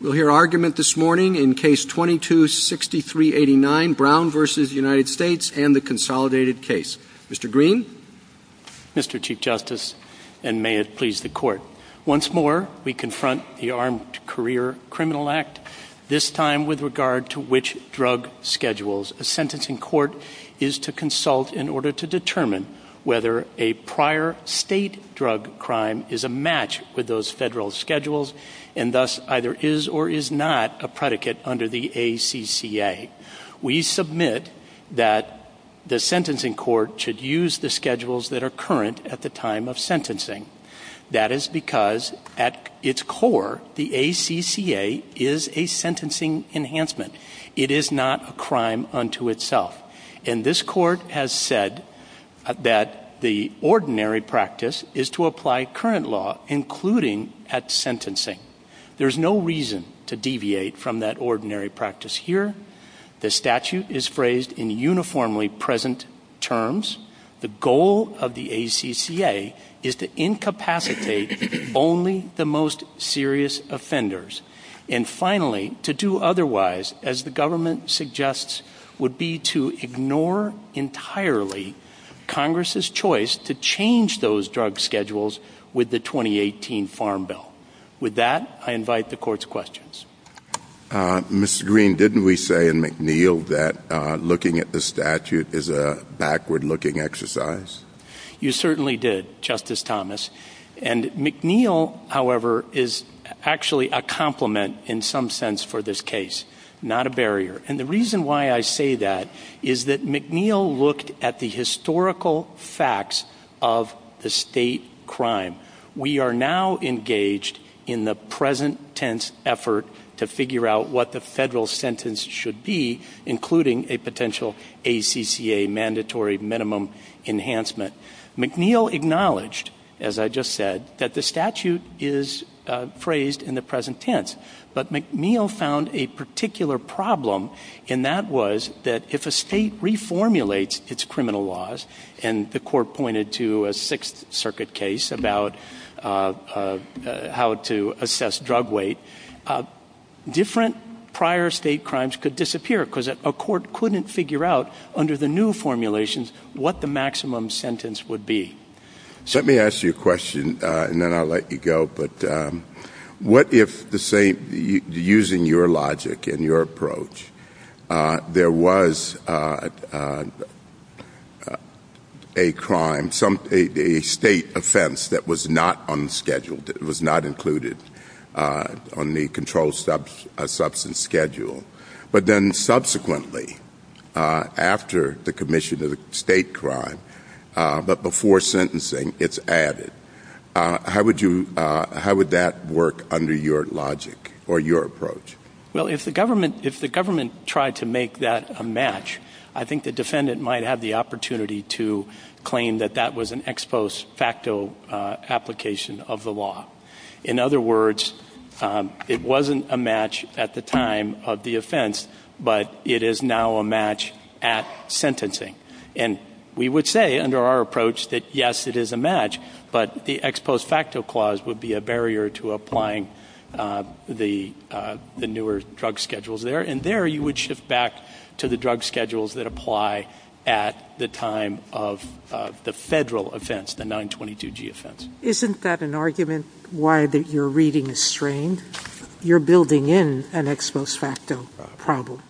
We'll hear argument this morning in Case 22-6389, Brown v. United States and the Consolidated Case. Mr. Green? Mr. Chief Justice, and may it please the Court, once more we confront the Armed Career Criminal Act, this time with regard to which drug schedules a sentencing court is to consult in order to determine whether a prior state drug crime is a match with those federal schedules and thus either is or is not a predicate under the ACCA. We submit that the sentencing court should use the schedules that are current at the time of sentencing. That is because at its core, the ACCA is a sentencing enhancement. It is not a crime unto itself, and this Court has said that the ordinary practice is to There is no reason to deviate from that ordinary practice here. The statute is phrased in uniformly present terms. The goal of the ACCA is to incapacitate only the most serious offenders. And finally, to do otherwise, as the government suggests, would be to ignore entirely Congress's choice to change those drug schedules with the 2018 Farm Bill. With that, I invite the Court's questions. Mr. Green, didn't we say in McNeil that looking at the statute is a backward-looking exercise? You certainly did, Justice Thomas. And McNeil, however, is actually a complement in some sense for this case, not a barrier. And the reason why I say that is that McNeil looked at the historical facts of the state crime. We are now engaged in the present-tense effort to figure out what the federal sentence should be, including a potential ACCA mandatory minimum enhancement. McNeil acknowledged, as I just said, that the statute is phrased in the present tense. But McNeil found a particular problem, and that was that if a state reformulates its statute on how to assess drug weight, different prior state crimes could disappear, because a court couldn't figure out, under the new formulations, what the maximum sentence would be. So let me ask you a question, and then I'll let you go, but what if, say, using your logic and your approach, there was a crime, a state offense that was not on the schedule, that was not included on the controlled substance schedule, but then subsequently, after the commission of the state crime, but before sentencing, it's added? How would that work under your logic or your approach? Well, if the government tried to make that a match, I think the defendant might have the opportunity to claim that that was an ex post facto application of the law. In other words, it wasn't a match at the time of the offense, but it is now a match at sentencing. And we would say, under our approach, that yes, it is a match, but the ex post facto clause would be a barrier to applying the newer drug schedules there. And there, you would shift back to the drug schedules that apply at the time of the federal offense, the 922G offense. Isn't that an argument why your reading is strained? You're building in an ex post facto problem.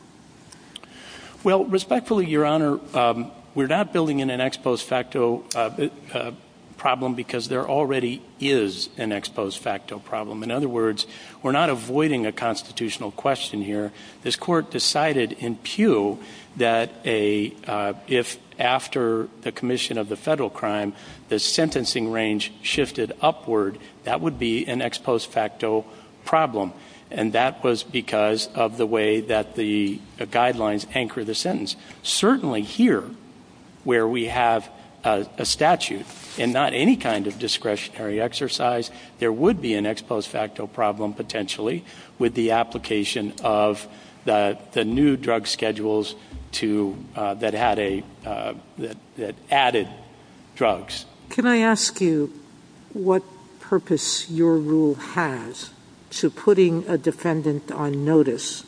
Well, respectfully, Your Honor, we're not building in an ex post facto problem, because there already is an ex post facto problem. In other words, we're not avoiding a constitutional question here. This court decided in pew that if, after the commission of the federal crime, the sentencing range shifted upward, that would be an ex post facto problem. And that was because of the way that the guidelines anchor the sentence. Certainly here, where we have a statute, and not any kind of discretionary exercise, there would be an ex post facto problem, potentially, with the application of the new drug schedules to, that had a, that added drugs. Can I ask you what purpose your rule has to putting a defendant on notice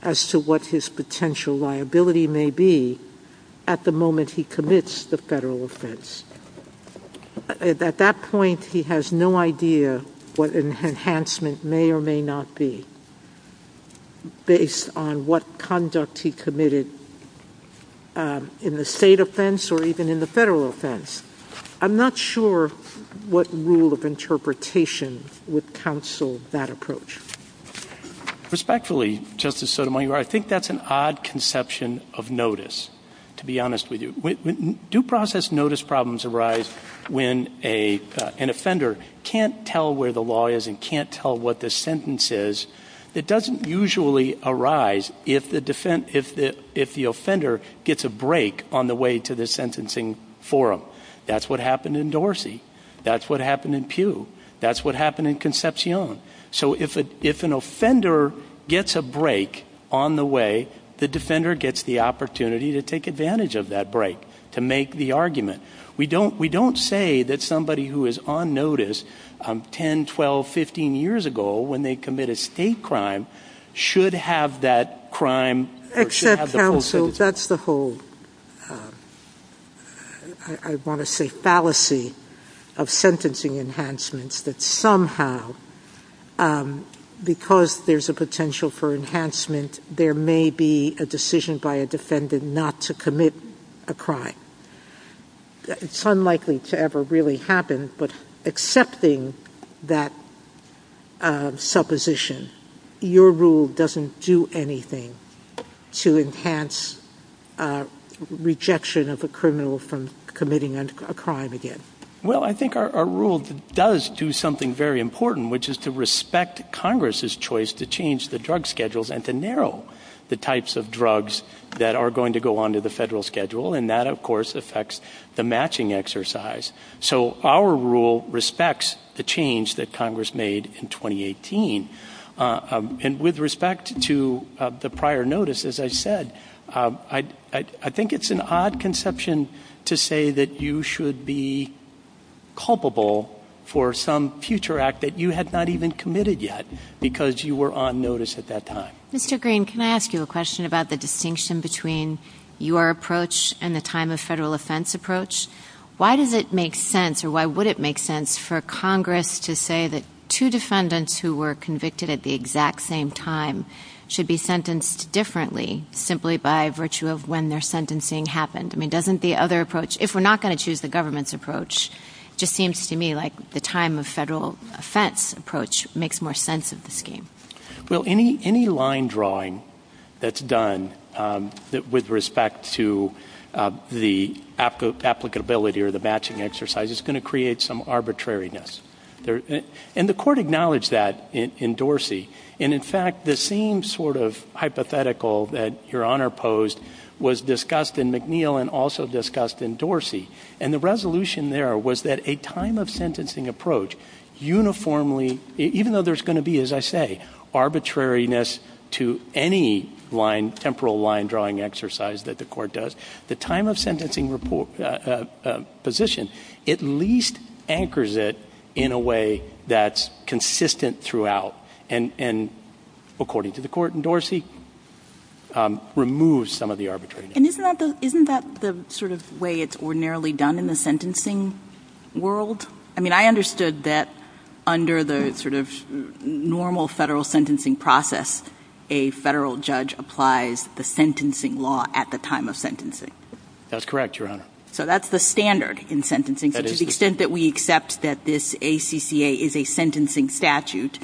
as to what his potential liability may be at the moment he commits the federal offense? At that point, he has no idea what enhancement may or may not be, based on what conduct he committed in the state offense or even in the federal offense. I'm not sure what rule of interpretation would counsel that approach. Respectfully, Justice Sotomayor, I think that's an odd conception of notice, to be honest with you. Due process notice problems arise when an offender can't tell where the law is and can't tell what the sentence is. It doesn't usually arise if the offender gets a break on the way to the sentencing forum. That's what happened in Dorsey. That's what happened in pew. That's what happened in Concepcion. So if an offender gets a break on the way, the defender gets the opportunity to take advantage of that break, to make the argument. We don't, we don't say that somebody who is on notice 10, 12, 15 years ago, when they commit a state crime, should have that crime, or should have the full sentence. I want to say fallacy of sentencing enhancements, that somehow, because there's a potential for enhancement, there may be a decision by a defendant not to commit a crime. It's unlikely to ever really happen, but accepting that supposition, your rule doesn't do anything to enhance rejection of a criminal from committing a crime again. Well, I think our rule does do something very important, which is to respect Congress's choice to change the drug schedules and to narrow the types of drugs that are going to go onto the federal schedule, and that, of course, affects the matching exercise. So our rule respects the change that Congress made in 2018. And with respect to the prior notice, as I said, I think it's an odd conception to say that you should be culpable for some future act that you had not even committed yet, because you were on notice at that time. Mr. Green, can I ask you a question about the distinction between your approach and the time of federal offense approach? Why does it make sense, or why would it make sense, for Congress to say that two defendants who were convicted at the exact same time should be sentenced differently simply by virtue of when their sentencing happened? I mean, doesn't the other approach, if we're not going to choose the government's approach, it just seems to me like the time of federal offense approach makes more sense of the scheme. Well, any line drawing that's done with respect to the applicability or the matching exercise is going to create some arbitrariness. And the court acknowledged that in Dorsey. And in fact, the same sort of hypothetical that Your Honor posed was discussed in McNeil and also discussed in Dorsey. And the resolution there was that a time of sentencing approach uniformly, even though there's going to be, as I say, arbitrariness to any line, temporal line drawing exercise that the court does, the time of sentencing position at least anchors it in a way that's consistent throughout and, according to the court in Dorsey, removes some of the arbitrariness. And isn't that the sort of way it's ordinarily done in the sentencing world? I mean, I understood that under the sort of normal federal sentencing process, a federal judge applies the sentencing law at the time of sentencing. That's correct, Your Honor. So that's the standard in sentencing. To the extent that we accept that this ACCA is a sentencing statute,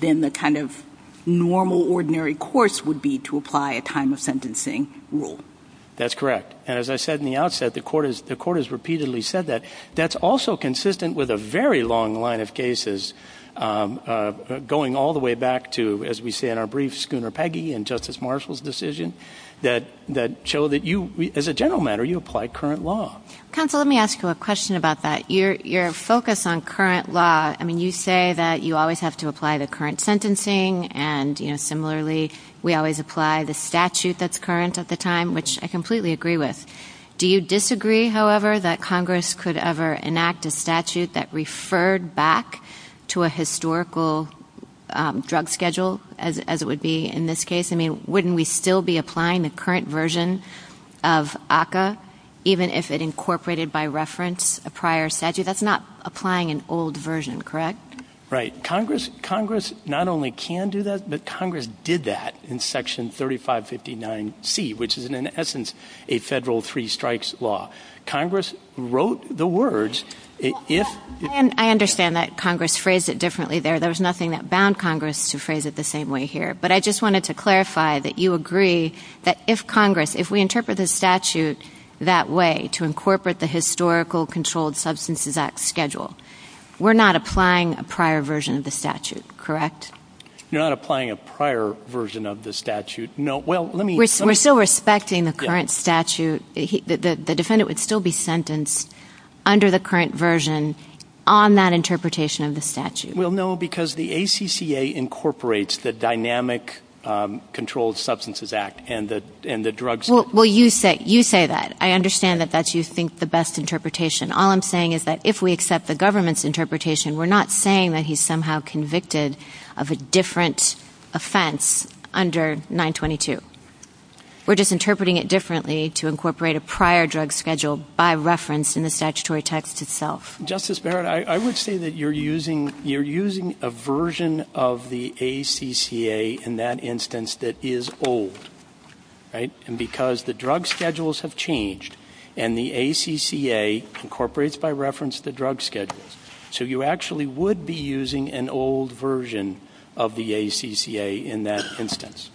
then the kind of normal ordinary course would be to apply a time of sentencing rule. That's correct. As I said in the outset, the court has repeatedly said that. That's also consistent with a very long line of cases going all the way back to, as we know, Justice Marshall's decision that show that you, as a general matter, you apply current law. Counsel, let me ask you a question about that. Your focus on current law, I mean, you say that you always have to apply the current sentencing and, you know, similarly, we always apply the statute that's current at the time, which I completely agree with. Do you disagree, however, that Congress could ever enact a statute that referred back to a historical drug schedule as it would be in this case? I mean, wouldn't we still be applying the current version of ACCA, even if it incorporated by reference a prior statute? That's not applying an old version, correct? Right. Congress not only can do that, but Congress did that in Section 3559C, which is, in essence, a federal three-strikes law. Congress wrote the words, if... I understand that Congress phrased it differently there. There's nothing that bound Congress to phrase it the same way here. But I just wanted to clarify that you agree that if Congress, if we interpret the statute that way, to incorporate the Historical Controlled Substances Act schedule, we're not applying a prior version of the statute, correct? You're not applying a prior version of the statute. No. Well, let me... We're still respecting the current statute. The defendant would still be sentenced under the current version on that interpretation of the statute. Well, no, because the ACCA incorporates the Dynamic Controlled Substances Act and the drug... Well, you say that. I understand that that's, you think, the best interpretation. All I'm saying is that if we accept the government's interpretation, we're not saying that he's somehow convicted of a different offense under 922. We're just interpreting it differently to incorporate a prior drug schedule by reference in the statutory text itself. Justice Barrett, I would say that you're using a version of the ACCA in that instance that is old, right? And because the drug schedules have changed and the ACCA incorporates by reference the drug schedules, so you actually would be using an old version of the ACCA in that instance.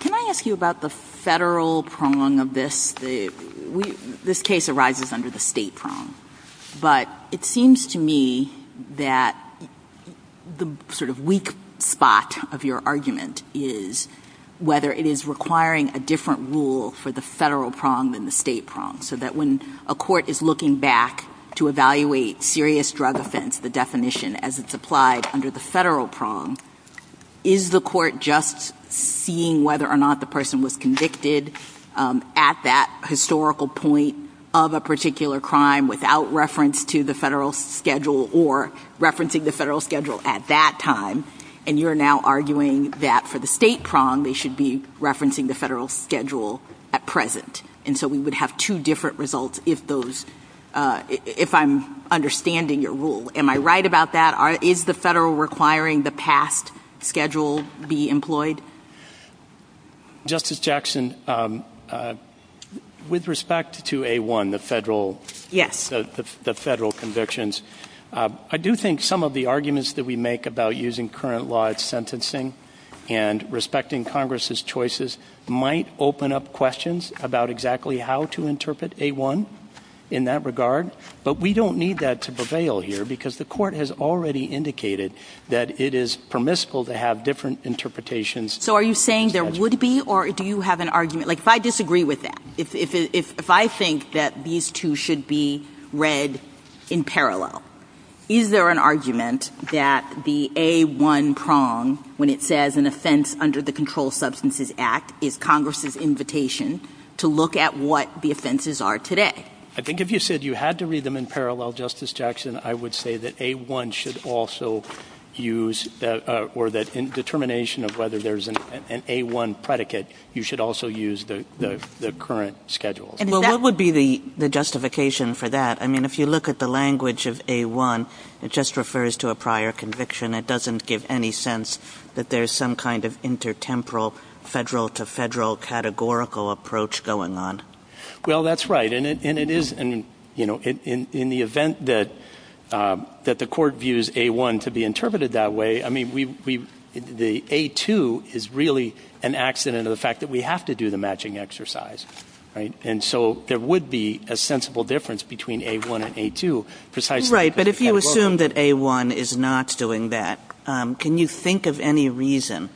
Can I ask you about the federal prong of this? This case arises under the state prong. But it seems to me that the sort of weak spot of your argument is whether it is requiring a different rule for the federal prong than the state prong, so that when a court is looking back to evaluate serious drug offense, the definition as it's applied under the federal prong, is the court just seeing whether or not the person was convicted at that historical point of a particular crime without reference to the federal schedule or referencing the federal schedule at that time? And you're now arguing that for the state prong, they should be referencing the federal schedule at present. And so we would have two different results if those, if I'm understanding your rule. Am I right about that? Is the federal requiring the past schedule be employed? Justice Jackson, with respect to A1, the federal convictions, I do think some of the arguments that we make about using current law of sentencing and respecting Congress's choices might open up questions about exactly how to interpret A1 in that regard. But we don't need that to prevail here because the court has already indicated that it is permissible to have different interpretations. So are you saying there would be, or do you have an argument, like if I disagree with that, if I think that these two should be read in parallel, is there an argument that the A1 prong, when it says an offense under the Controlled Substances Act, is Congress's invitation to look at what the offenses are today? I think if you said you had to read them in parallel, Justice Jackson, I would say that A1 should also use, or that in determination of whether there's an A1 predicate, you should also use the current schedule. And what would be the justification for that? I mean, if you look at the language of A1, it just refers to a prior conviction. It doesn't give any sense that there's some kind of intertemporal federal to federal categorical approach going on. Well, that's right. And it is, you know, in the event that the court views A1 to be interpreted that way, I mean, we, the A2 is really an accident of the fact that we have to do the matching exercise, right? And so there would be a sensible difference between A1 and A2, precisely. Right. But if you assume that A1 is not doing that, can you think of any reason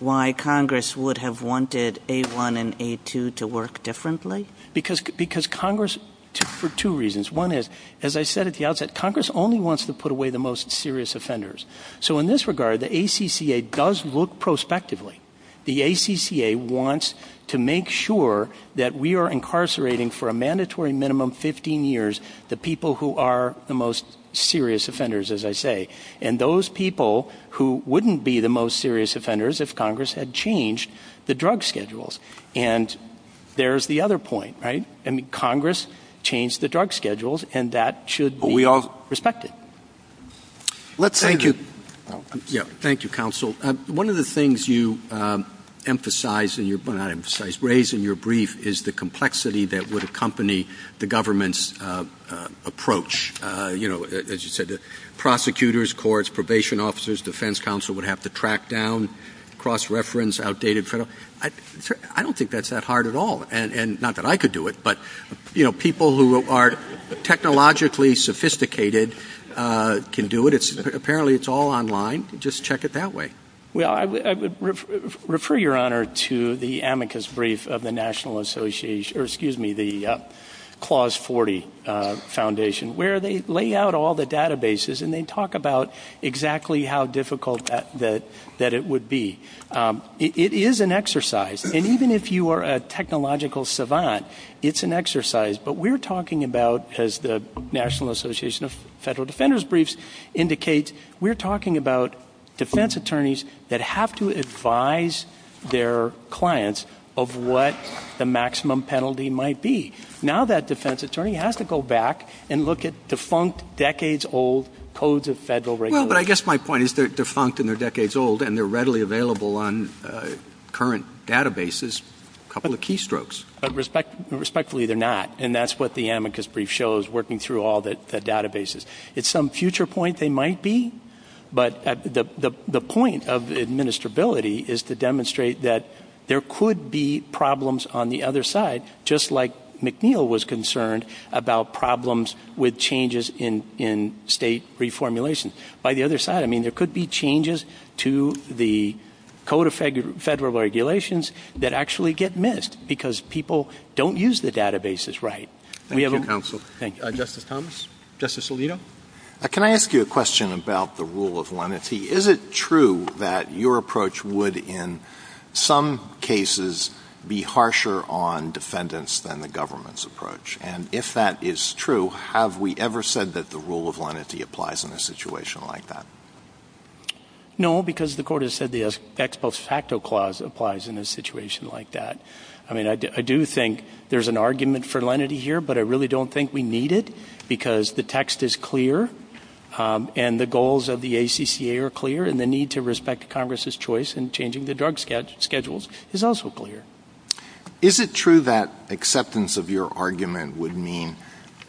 why Congress would have wanted A1 and A2 to work differently? Because Congress, for two reasons. One is, as I said at the outset, Congress only wants to put away the most serious offenders. So in this regard, the ACCA does look prospectively. The ACCA wants to make sure that we are incarcerating for a mandatory minimum 15 years, the people who are the most serious offenders, as I say, and those people who wouldn't be the most serious offenders if Congress had changed the drug schedules. And there's the other point, right? And Congress changed the drug schedules and that should be respected. Let's say, yeah, thank you, counsel. One of the things you emphasize in your brief is the complexity that would accompany the government's approach. You know, as you said, prosecutors, courts, probation officers, defense counsel would have to track down cross-reference, outdated federal. I don't think that's that hard at all. And not that I could do it, but, you know, people who are technologically sophisticated can do it. It's apparently it's all online. Just check it that way. Well, I refer your honor to the amicus brief of the National Association or excuse me, the Clause 40 Foundation, where they lay out all the databases and they talk about exactly how difficult that that it would be. It is an exercise. And even if you are a technological savant, it's an exercise. But we're talking about, as the National Association of Federal Defenders briefs indicates, we're talking about defense attorneys that have to advise their clients of what the maximum penalty might be. Now that defense attorney has to go back and look at defunct decades old codes of federal regulation. But I guess my point is they're defunct and they're decades old and they're readily available on current databases, a couple of keystrokes. But respectfully, they're not. And that's what the amicus brief shows, working through all the databases. It's some future point they might be. But the point of administrability is to demonstrate that there could be problems on the other side, just like McNeil was concerned about problems with changes in state reformulation. By the other side, I mean, there could be changes to the code of federal regulations that actually get missed because people don't use the databases right. Thank you, counsel. Justice Thomas, Justice Alito. Can I ask you a question about the rule of lenity? Is it true that your approach would, in some cases, be harsher on defendants than the government's approach? And if that is true, have we ever said that the rule of lenity applies in a situation like that? No, because the court has said the ex post facto clause applies in a situation like that. I mean, I do think there's an argument for lenity here, but I really don't think we need it because the text is clear and the goals of the ACCA are clear and the need to respect Congress's choice in changing the drug schedules is also clear. Is it true that acceptance of your argument would mean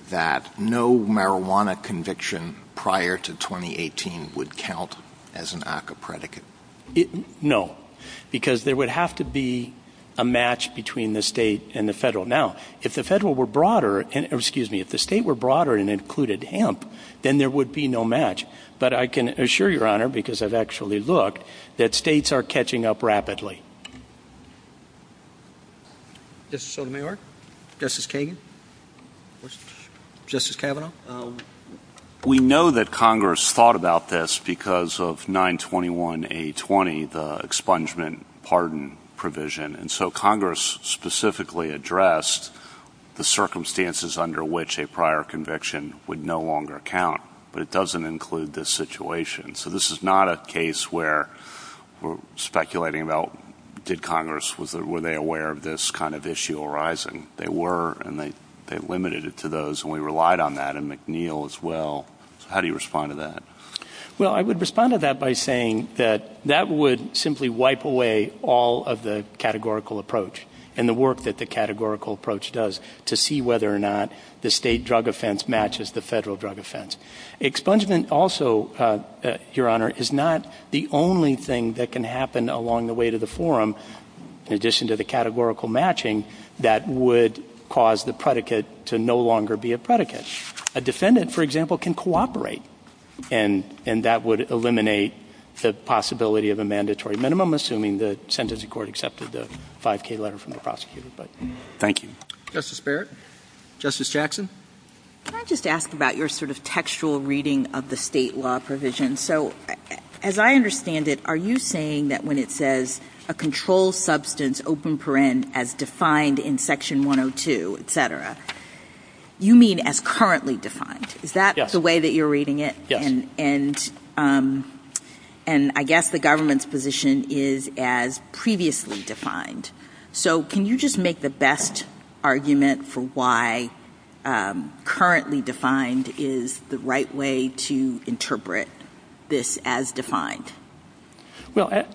that no marijuana conviction prior to twenty eighteen would count as an ACCA predicate? No, because there would have to be a match between the state and the federal. Now, if the federal were broader and excuse me, if the state were broader and included hemp, then there would be no match. But I can assure your honor, because I've actually looked that states are catching up rapidly. This sort of New York, Justice King, Justice Kavanaugh, we know that Congress thought about this because of nine twenty one, a twenty expungement pardon provision. And so Congress specifically addressed the circumstances under which a prior conviction would no longer count. But it doesn't include this situation. So this is not a case where we're speculating about did Congress was were they aware of this kind of issue arising? They were and they limited it to those. And we relied on that and McNeil as well. How do you respond to that? Well, I would respond to that by saying that that would simply wipe away all of the categorical approach and the work that the categorical approach does to see whether or not the state drug offense matches the federal drug offense expungement. It also, your honor, is not the only thing that can happen along the way to the forum. In addition to the categorical matching that would cause the predicate to no longer be a predicate. A defendant, for example, can cooperate and and that would eliminate the possibility of a mandatory minimum, assuming the sentencing court accepted the five K letter from the prosecutor. Thank you, Justice Barrett, Justice Jackson. Can I just ask about your sort of textual reading of the state law provision? So as I understand it, are you saying that when it says a controlled substance open parent as defined in Section 102, et cetera, you mean as currently defined? Is that the way that you're reading it? And and and I guess the government's position is as previously defined. So can you just make the best argument for why currently defined is the right way to interpret this as defined? Well,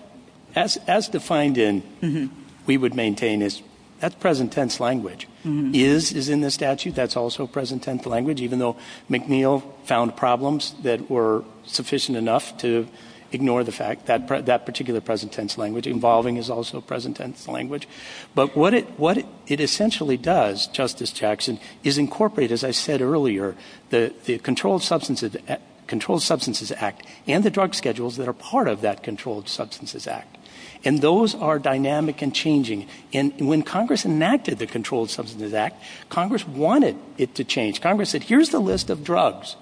as as defined in we would maintain is that's present tense language is is in the statute. That's also present tense language, even though McNeil found problems that were sufficient enough to ignore the fact that that particular present tense language involving is also present tense language. But what it what it essentially does, Justice Jackson, is incorporate, as I said earlier, the Controlled Substances Act, Controlled Substances Act and the drug schedules that are part of that Controlled Substances Act. And those are dynamic and changing. And when Congress enacted the Controlled Substances Act, Congress wanted it to change. Congress said, here's the list of drugs,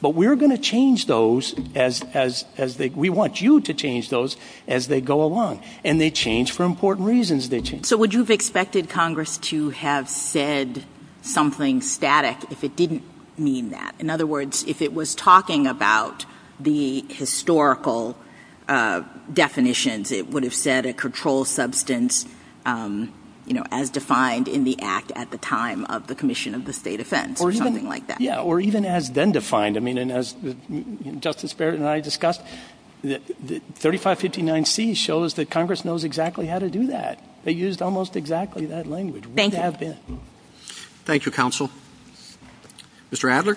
but we're going to change those as as as we want you to change those as they go along. And they change for important reasons. They change. So would you have expected Congress to have said something static if it didn't mean that? In other words, if it was talking about the historical definitions, it would have said a controlled substance, you know, as defined in the act at the time of the Commission of the State Defense or something like that. Yeah, or even has been defined. I mean, and as Justice Barrett and I discussed, the thirty five fifty nine C shows that Congress knows exactly how to do that. They used almost exactly that language. Thank you. Thank you, counsel. Mr. Adler.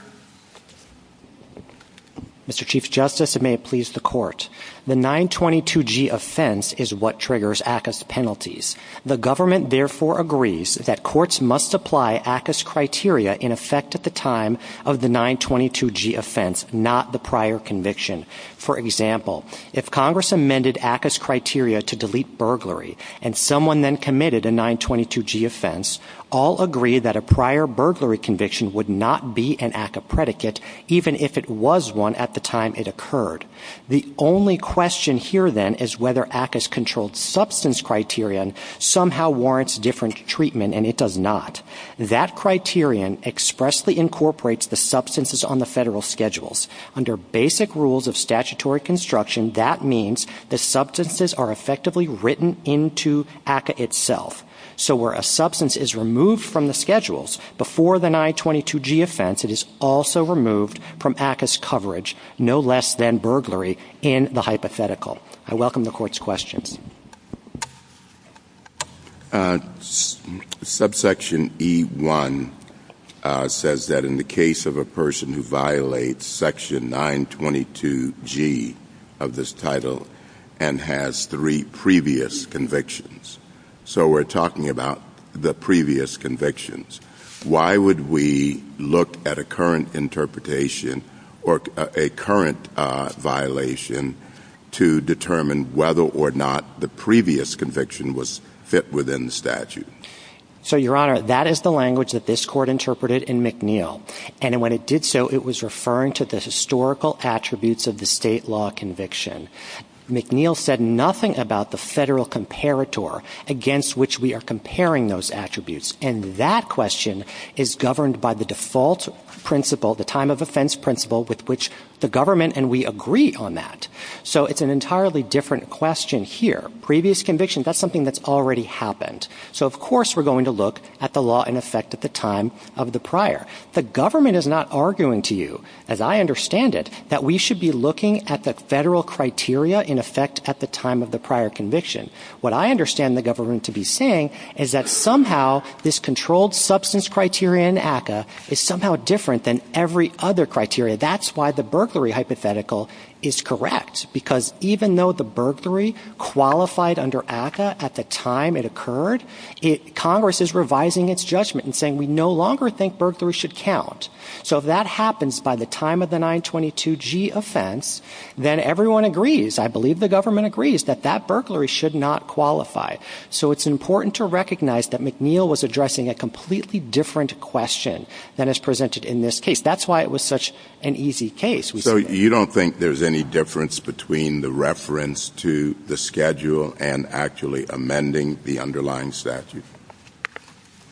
Mr. Chief Justice, may it please the court. The 922 G offense is what triggers penalties. The government therefore agrees that courts must apply ACUS criteria in effect at the time of the 922 G offense, not the prior conviction. For example, if Congress amended ACUS criteria to delete burglary and someone then committed a 922 G offense, all agree that a prior burglary conviction would not be an ACA predicate, even if it was one at the time it occurred. The only question here then is whether ACUS controlled substance criterion somehow warrants different treatment. And it does not. That criterion expressly incorporates the substances on the federal schedules under basic rules of statutory construction. That means the substances are effectively written into ACA itself. So where a substance is removed from the schedules before the 922 G offense, it is also removed from ACUS coverage, no less than burglary in the hypothetical. I welcome the court's questions. Subsection E1 says that in the case of a person who violates section 922 G of this title and has three previous convictions, so we're talking about the previous convictions, why would we look at a current interpretation or a current violation to determine whether or not the previous conviction was fit within the statute? So, Your Honor, that is the language that this court interpreted in McNeill. And when it did so, it was referring to the historical attributes of the state law conviction. McNeill said nothing about the federal comparator against which we are comparing those attributes. And that question is governed by the default principle, the time of offense principle with which the government and we agree on that. So it's an entirely different question here. Previous convictions, that's something that's already happened. So, of course, we're going to look at the law in effect at the time of the prior. The government is not arguing to you, as I understand it, that we should be looking at the federal criteria in effect at the time of the prior conviction. What I understand the government to be saying is that somehow this controlled substance criteria in ACA is somehow different than every other criteria. That's why the burglary hypothetical is correct, because even though the burglary qualified under ACA at the time it occurred, Congress is revising its judgment and saying we no longer think burglary should count. So if that happens by the time of the 922 G offense, then everyone agrees. I believe the government agrees that that burglary should not qualify. So it's important to recognize that McNeill was addressing a completely different question than is presented in this case. That's why it was such an easy case. So you don't think there's any difference between the reference to the schedule and actually amending the underlying statute?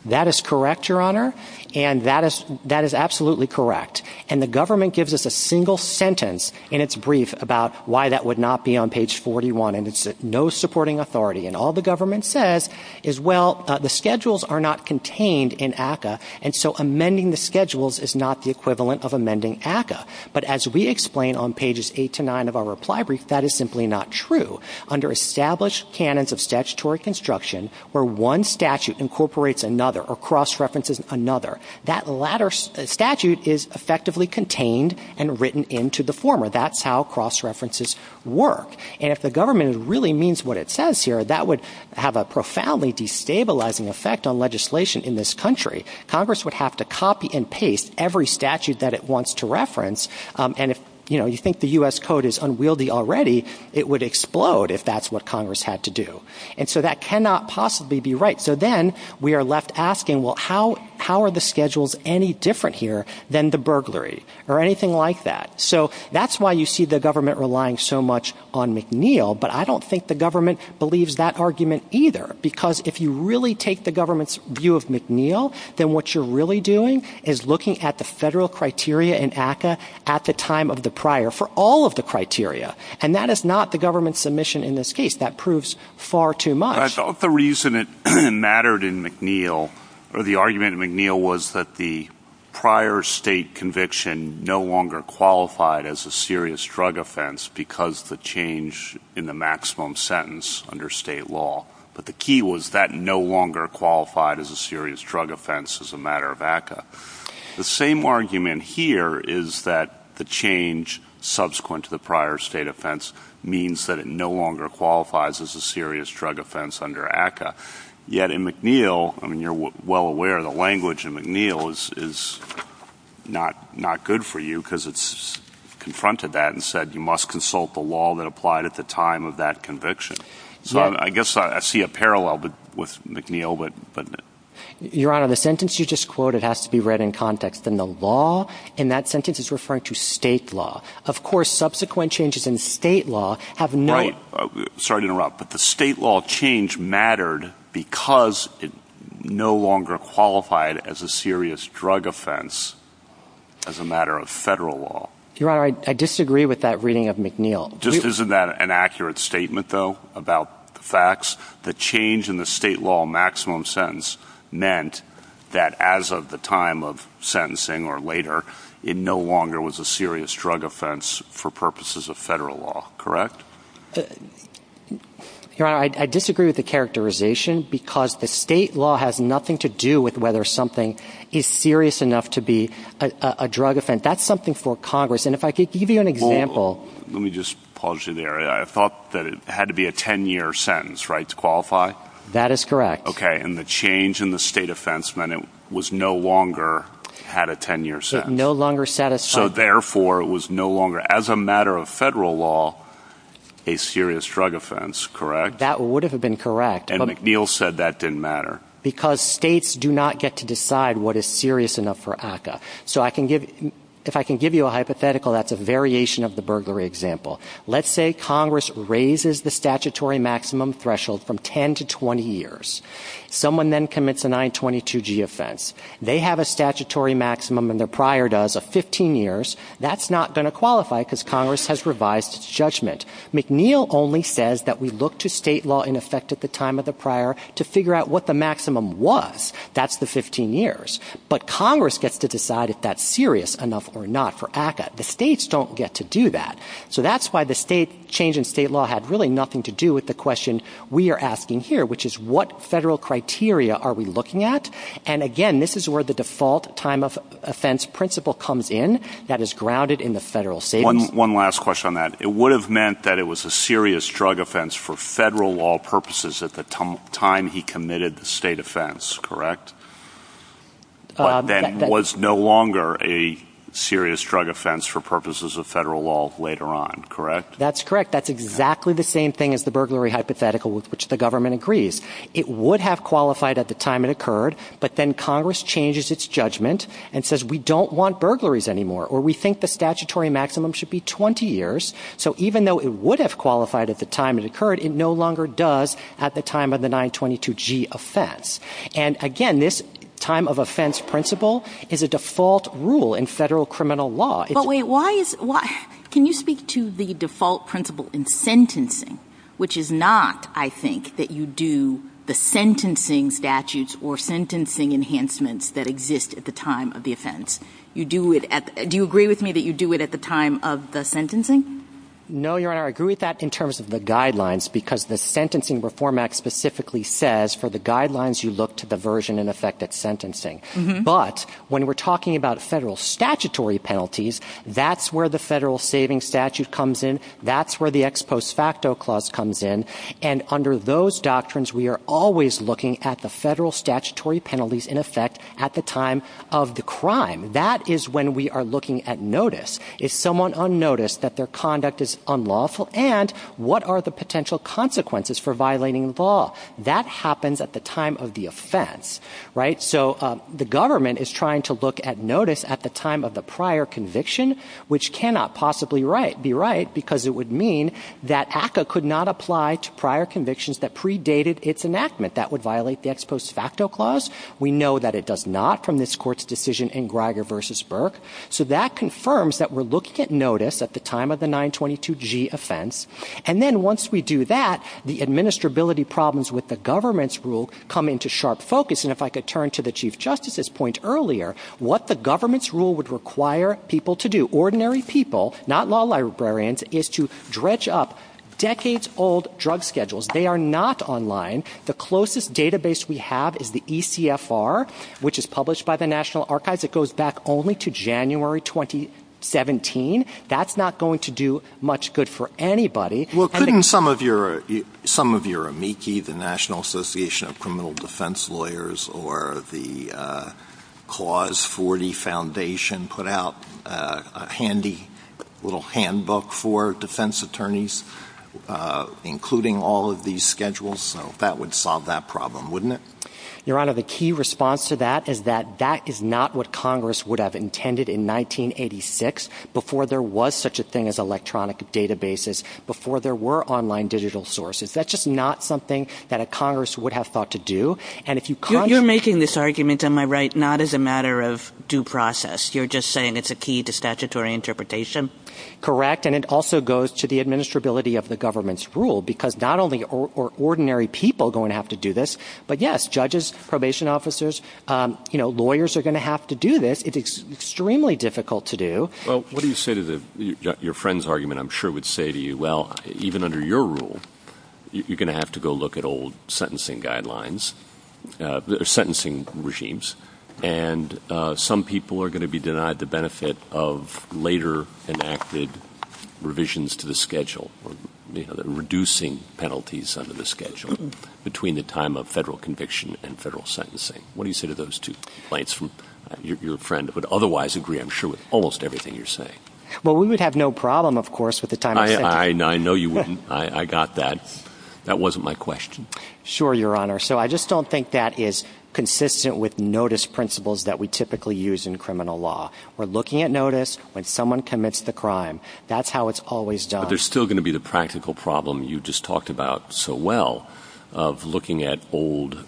That is correct, Your Honor. And that is that is absolutely correct. And the government gives us a single sentence in its brief about why that would not be on page 41. And it's no supporting authority. And all the government says is, well, the schedules are not contained in ACA. And so amending the schedules is not the equivalent of amending ACA. But as we explain on pages eight to nine of our reply brief, that is simply not true. Under established canons of statutory construction where one statute incorporates another or cross-references another, that latter statute is effectively contained and written into the former. That's how cross-references work. And if the government really means what it says here, that would have a profoundly destabilizing effect on legislation in this country. Congress would have to copy and paste every statute that it wants to reference. And if you think the U.S. code is unwieldy already, it would explode if that's what Congress had to do. And so that cannot possibly be right. So then we are left asking, well, how are the schedules any different here than the burglary or anything like that? So that's why you see the government relying so much on McNeil. But I don't think the government believes that argument either, because if you really take the government's view of McNeil, then what you're really doing is looking at the federal criteria and ACA at the time of the prior for all of the criteria. And that is not the government's submission in this case. That proves far too much. I thought the reason it mattered in McNeil or the argument McNeil was that the prior state conviction no longer qualified as a serious drug offense because the change in the maximum sentence under state law. But the key was that no longer qualified as a serious drug offense as a matter of ACA. The same argument here is that the change subsequent to the prior state offense means that it no longer qualifies as a serious drug offense under ACA. Yet in McNeil, I mean, you're well aware the language in McNeil is not not good for you because it's confronted that and said you must consult the law that applied at the time of that conviction. So I guess I see a parallel with McNeil, but your honor, the sentence you just quoted has to be read in context and the law in that sentence is referring to state law. Of course, subsequent changes in state law have no sorry to interrupt, but the state law change mattered because it no longer qualified as a serious drug offense as a matter of federal law. Your honor, I disagree with that reading of McNeil. Isn't that an accurate statement, though, about the facts that change in the state law maximum sentence meant that as of the time of sentencing or later, it no longer was a serious drug offense for purposes of federal law, correct? Your honor, I disagree with the characterization because the state law has nothing to do with whether something is serious enough to be a drug offense. That's something for Congress. And if I could give you an example, let me just pause you there. I thought that it had to be a 10 year sentence, right, to qualify. That is correct. OK. And the change in the state offense meant it was no longer had a 10 year sentence, no longer set. So therefore, it was no longer as a matter of federal law, a serious drug offense. Correct. That would have been correct. And McNeil said that didn't matter because states do not get to decide what is serious enough for ACCA. So I can give if I can give you a hypothetical, that's a variation of the burglary example. Let's say Congress raises the statutory maximum threshold from 10 to 20 years. Someone then commits a 922 G offense. They have a statutory maximum and their prior does a 15 years. That's not going to qualify because Congress has revised its judgment. McNeil only says that we look to state law in effect at the time of the prior to figure out what the maximum was. That's the 15 years. But Congress gets to decide if that's serious enough or not for ACCA. The states don't get to do that. So that's why the state change in state law had really nothing to do with the question we are asking here, which is what federal criteria are we looking at? And again, this is where the default time of offense principle comes in. That is grounded in the federal state. One last question on that. It would have meant that it was a serious drug offense for federal law purposes at the time he committed the state offense. Correct. That was no longer a serious drug offense for purposes of federal law later on. Correct. That's correct. That's exactly the same thing as the burglary hypothetical with which the government agrees it would have qualified at the time it occurred. But then Congress changes its judgment and says we don't want burglaries anymore or we think the statutory maximum should be 20 years. So even though it would have qualified at the time it occurred, it no longer does at the time of the 922 G offense. And again, this time of offense principle is a default rule in federal criminal law. But wait, why is why? Can you speak to the default principle in sentencing, which is not, I think, that you do the sentencing statutes or sentencing enhancements that exist at the time of the offense? You do it. Do you agree with me that you do it at the time of the sentencing? No, Your Honor, I agree with that in terms of the guidelines, because the sentencing reform act specifically says for the guidelines, you look to the version and effective sentencing. But when we're talking about federal statutory penalties, that's where the federal saving statute comes in. That's where the ex post facto clause comes in. And under those doctrines, we are always looking at the federal statutory penalties in effect at the time of the crime. That is when we are looking at notice. Is someone unnoticed that their conduct is unlawful? And what are the potential consequences for violating the law that happens at the time of the offense? Right. So the government is trying to look at notice at the time of the prior conviction, which cannot possibly be right, because it would mean that ACCA could not apply to prior convictions that predated its enactment. That would violate the ex post facto clause. We know that it does not from this court's decision in Greiger versus Burke. So that confirms that we're looking at notice at the time of the 922 G offense. And then once we do that, the administrability problems with the government's rule come into sharp focus. And if I could turn to the chief justice's point earlier, what the government's rule would require people to do ordinary people, not law librarians, is to dredge up decades old drug schedules. They are not online. The closest database we have is the ECFR, which is published by the National Archives. It goes back only to January 2017. That's not going to do much good for anybody. Well, couldn't some of your some of your amici, the National Association of Criminal Defense Lawyers or the Clause 40 Foundation, put out a handy little handbook for defense attorneys, including all of these schedules? That would solve that problem, wouldn't it? Your Honor, the key response to that is that that is not what Congress would have intended in 1986 before there was such a thing as electronic databases, before there were online digital sources. That's just not something that a Congress would have thought to do. And if you you're making this argument, am I right? Not as a matter of due process. You're just saying it's a key to statutory interpretation. Correct. And it also goes to the administrability of the government's rule, because not only are ordinary people going to have to do this. But yes, judges, probation officers, lawyers are going to have to do this. It's extremely difficult to do. Well, what do you say to your friend's argument? I'm sure would say to you, well, even under your rule, you're going to have to go look at old sentencing guidelines, sentencing regimes, and some people are going to be denied the benefit of later enacted revisions to the schedule, reducing penalties under the federal conviction and federal sentencing. What do you say to those two points from your friend? But otherwise agree, I'm sure with almost everything you're saying. Well, we would have no problem, of course, with the time. I know you wouldn't. I got that. That wasn't my question. Sure, Your Honor. So I just don't think that is consistent with notice principles that we typically use in criminal law. We're looking at notice when someone commits the crime. That's how it's always done. There's still going to be the practical problem you just talked about so well of looking at old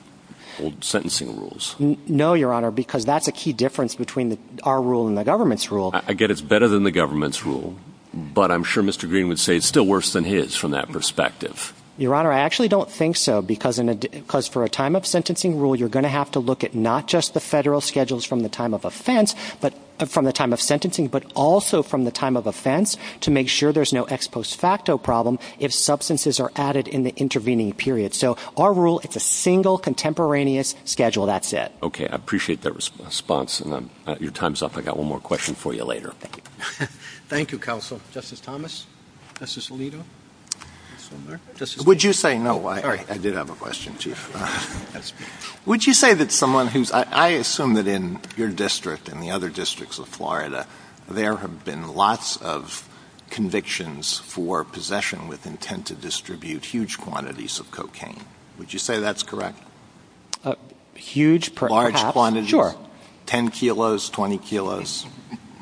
old sentencing rules. No, Your Honor, because that's a key difference between our rule and the government's rule. I get it's better than the government's rule, but I'm sure Mr. Green would say it's still worse than his from that perspective. Your Honor, I actually don't think so, because for a time of sentencing rule, you're going to have to look at not just the federal schedules from the time of offense, but from the time of post facto problem if substances are added in the intervening period. So our rule, it's a single contemporaneous schedule. That's it. OK, I appreciate that response and your time's up. I got one more question for you later. Thank you, counsel. Justice Thomas, Justice Alito. Would you say no? I did have a question, too. Would you say that someone who's I assume that in your district and the other districts of Florida, there have been lots of convictions for possession with intent to distribute huge quantities of cocaine? Would you say that's correct? Huge, large quantity, 10 kilos, 20 kilos.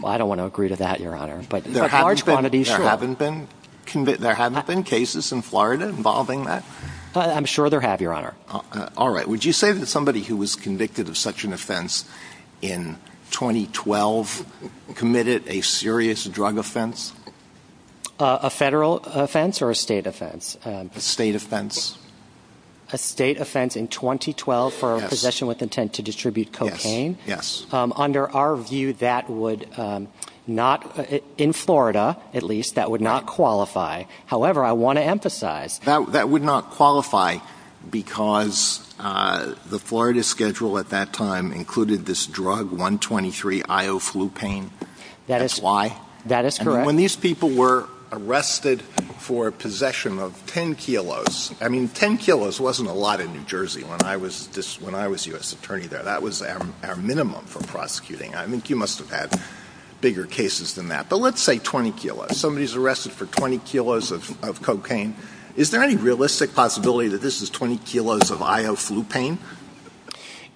Well, I don't want to agree to that, Your Honor, but there are large quantities. There haven't been cases in Florida involving that. I'm sure there have, Your Honor. All right. Would you say that somebody who was convicted of such an offense in 2012 committed a serious drug offense? A federal offense or a state offense? A state offense. A state offense in 2012 for possession with intent to distribute cocaine? Yes. Under our view, that would not, in Florida at least, that would not qualify. However, I want to emphasize. That would not qualify because the Florida schedule at that time included this drug, 123-io-flu-pain. That is why. That is correct. And when these people were arrested for possession of 10 kilos, I mean, 10 kilos wasn't a lot in New Jersey when I was this when I was U.S. attorney there. That was our minimum for prosecuting. I mean, you must have had bigger cases than that. But let's say 20 kilos. Somebody's arrested for 20 kilos of cocaine. Is there any realistic possibility that this is 20 kilos of io-flu-pain?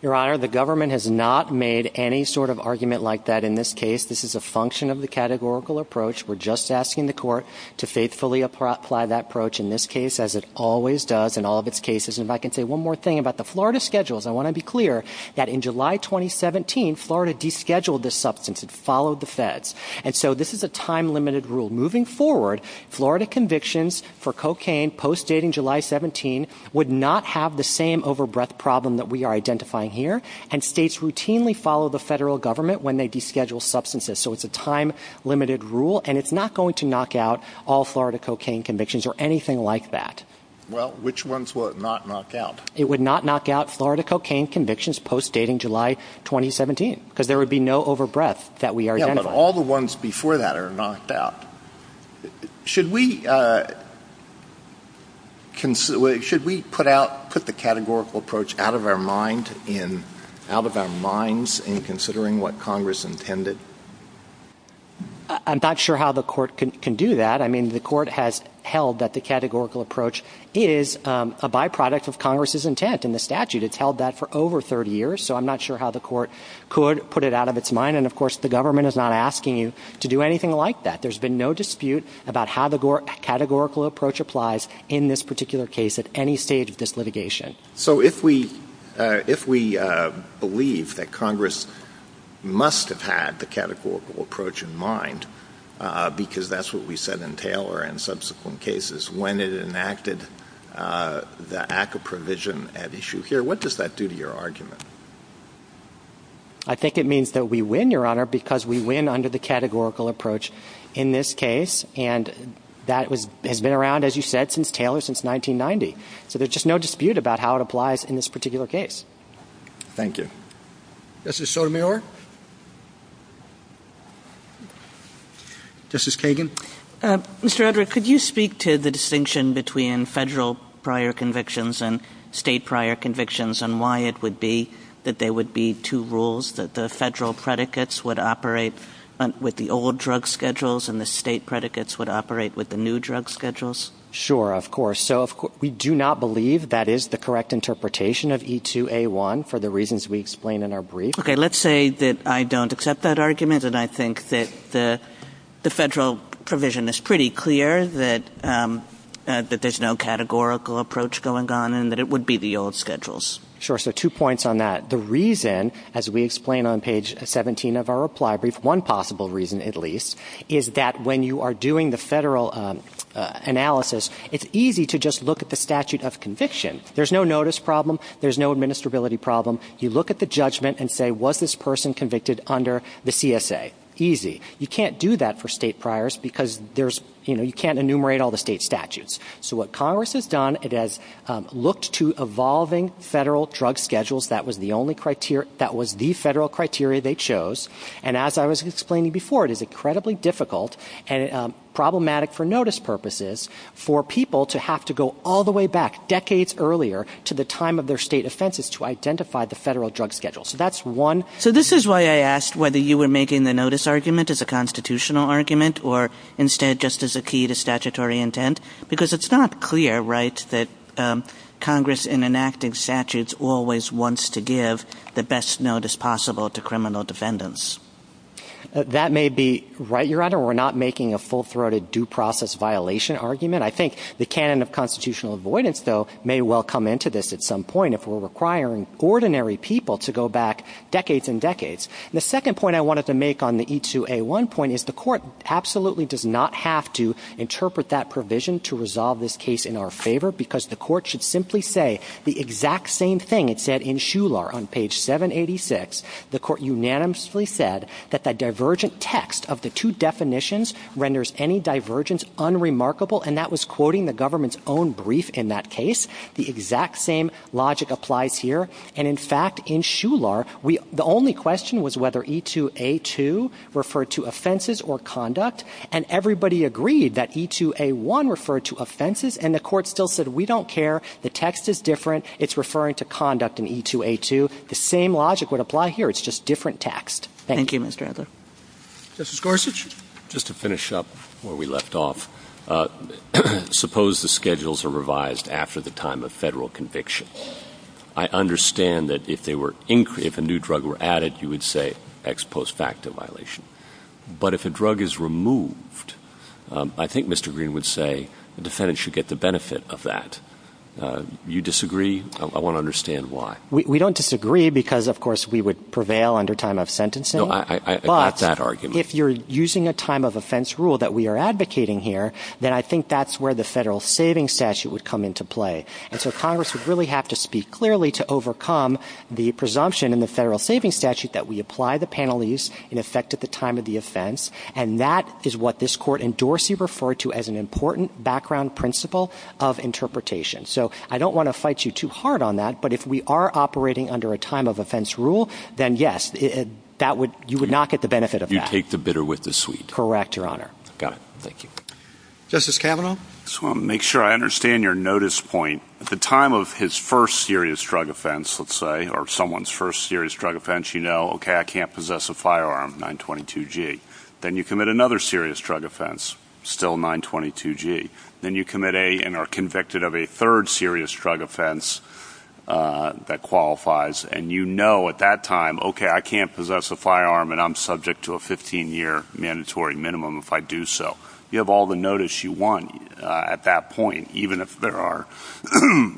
Your Honor, the government has not made any sort of argument like that in this case. This is a function of the categorical approach. We're just asking the court to faithfully apply that approach in this case, as it always does in all of its cases. And I can say one more thing about the Florida schedules. I want to be clear that in July 2017, Florida descheduled this substance and followed the feds. And so this is a time limited rule. Moving forward, Florida convictions for cocaine post-dating July 17 would not have the same overbreath problem that we are identifying here. And states routinely follow the federal government when they deschedule substances. So it's a time limited rule. And it's not going to knock out all Florida cocaine convictions or anything like that. Well, which ones would not knock out? It would not knock out Florida cocaine convictions post-dating July 2017 because there would be no overbreath that we are getting all the ones before that are knocked out. Should we put the categorical approach out of our minds in considering what Congress intended? I'm not sure how the court can do that. I mean, the court has held that the categorical approach is a byproduct of Congress's intent in the statute. It's held that for over 30 years. So I'm not sure how the court could put it out of its mind. And of course, the government is not asking you to do anything like that. There's been no dispute about how the categorical approach applies in this particular case at any stage of this litigation. So if we if we believe that Congress must have had the categorical approach in mind because that's what we said in Taylor and subsequent cases when it enacted the ACA provision at issue here, what does that do to your argument? I think it means that we win your honor, because we win under the categorical approach in this case, and that has been around, as you said, since Taylor, since 1990. So there's just no dispute about how it applies in this particular case. Thank you. This is Sotomayor. This is Kagan. Mr. Edward, could you speak to the distinction between federal prior convictions and state prior convictions and why it would be that there would be two rules that the federal predicates would operate with the old drug schedules and the state predicates would operate with the new drug schedules? Sure, of course. So we do not believe that is the correct interpretation of E2A1 for the reasons we explain in our brief. Okay, let's say that I don't accept that argument and I think that the federal provision is pretty clear that there's no categorical approach going on and that it would be the old schedules. Sure. So two points on that. The reason, as we explain on page 17 of our reply brief, one possible reason at least, is that when you are doing the federal analysis, it's easy to just look at the statute of conviction. There's no notice problem. There's no administrability problem. You look at the judgment and say, was this person convicted under the CSA? Easy. You can't do that for state priors because you can't enumerate all the state statutes. So what Congress has done, it has looked to evolving federal drug schedules. That was the federal criteria they chose. And as I was explaining before, it is incredibly difficult and problematic for notice purposes for people to have to go all the way back decades earlier to the time of their state offenses to identify the federal drug schedule. So that's one. So this is why I asked whether you were making the notice argument as a constitutional argument or instead just as a key to statutory intent because it's not clear, right, that Congress in enacting statutes always wants to give the best notice possible to criminal defendants. That may be right, Your Honor. We're not making a full-throated due process violation argument. I think the canon of constitutional avoidance, though, may well come into this at some point if we're requiring ordinary people to go back decades and decades. The second point I wanted to make on the E2A1 point is the court absolutely does not have to interpret that provision to resolve this case in our favor because the court should simply say the exact same thing it said in Shular on page 786. The court unanimously said that the divergent text of the two definitions renders any divergence unremarkable, and that was quoting the government's own brief in that case. The exact same logic applies here. And, in fact, in Shular, the only question was whether E2A2 referred to offenses or conduct, and everybody agreed that E2A1 referred to offenses, and the court still said we don't care. The text is different. It's referring to conduct in E2A2. The same logic would apply here. It's just different text. Thank you. Thank you, Mr. Adler. Justice Gorsuch? Just to finish up where we left off, suppose the schedules are revised after the time of federal conviction. I understand that if a new drug were added, you would say ex post facto violation. But if a drug is removed, I think Mr. Green would say the defendant should get the benefit of that. Do you disagree? I want to understand why. We don't disagree because, of course, we would prevail under time of sentencing. No, I got that argument. But if you're using a time of offense rule that we are advocating here, then I think that's where the federal savings statute would come into play. And so Congress would really have to speak clearly to overcome the presumption in the federal savings statute that we apply the penalties in effect at the time of the offense. And that is what this court endorsed you refer to as an important background principle of interpretation. So I don't want to fight you too hard on that, but if we are operating under a time of offense rule, then, yes, you would not get the benefit of that. You take the bitter with the sweet. Correct, Your Honor. Justice Kavanaugh? I just want to make sure I understand your notice point. At the time of his first serious drug offense, let's say, or someone's first serious drug offense, you know, okay, I can't possess a firearm, 922G. Then you commit another serious drug offense, still 922G. Then you commit and are convicted of a third serious drug offense that qualifies. And you know at that time, okay, I can't possess a firearm and I'm subject to a 15-year mandatory minimum if I do so. You have all the notice you want at that point, even if there are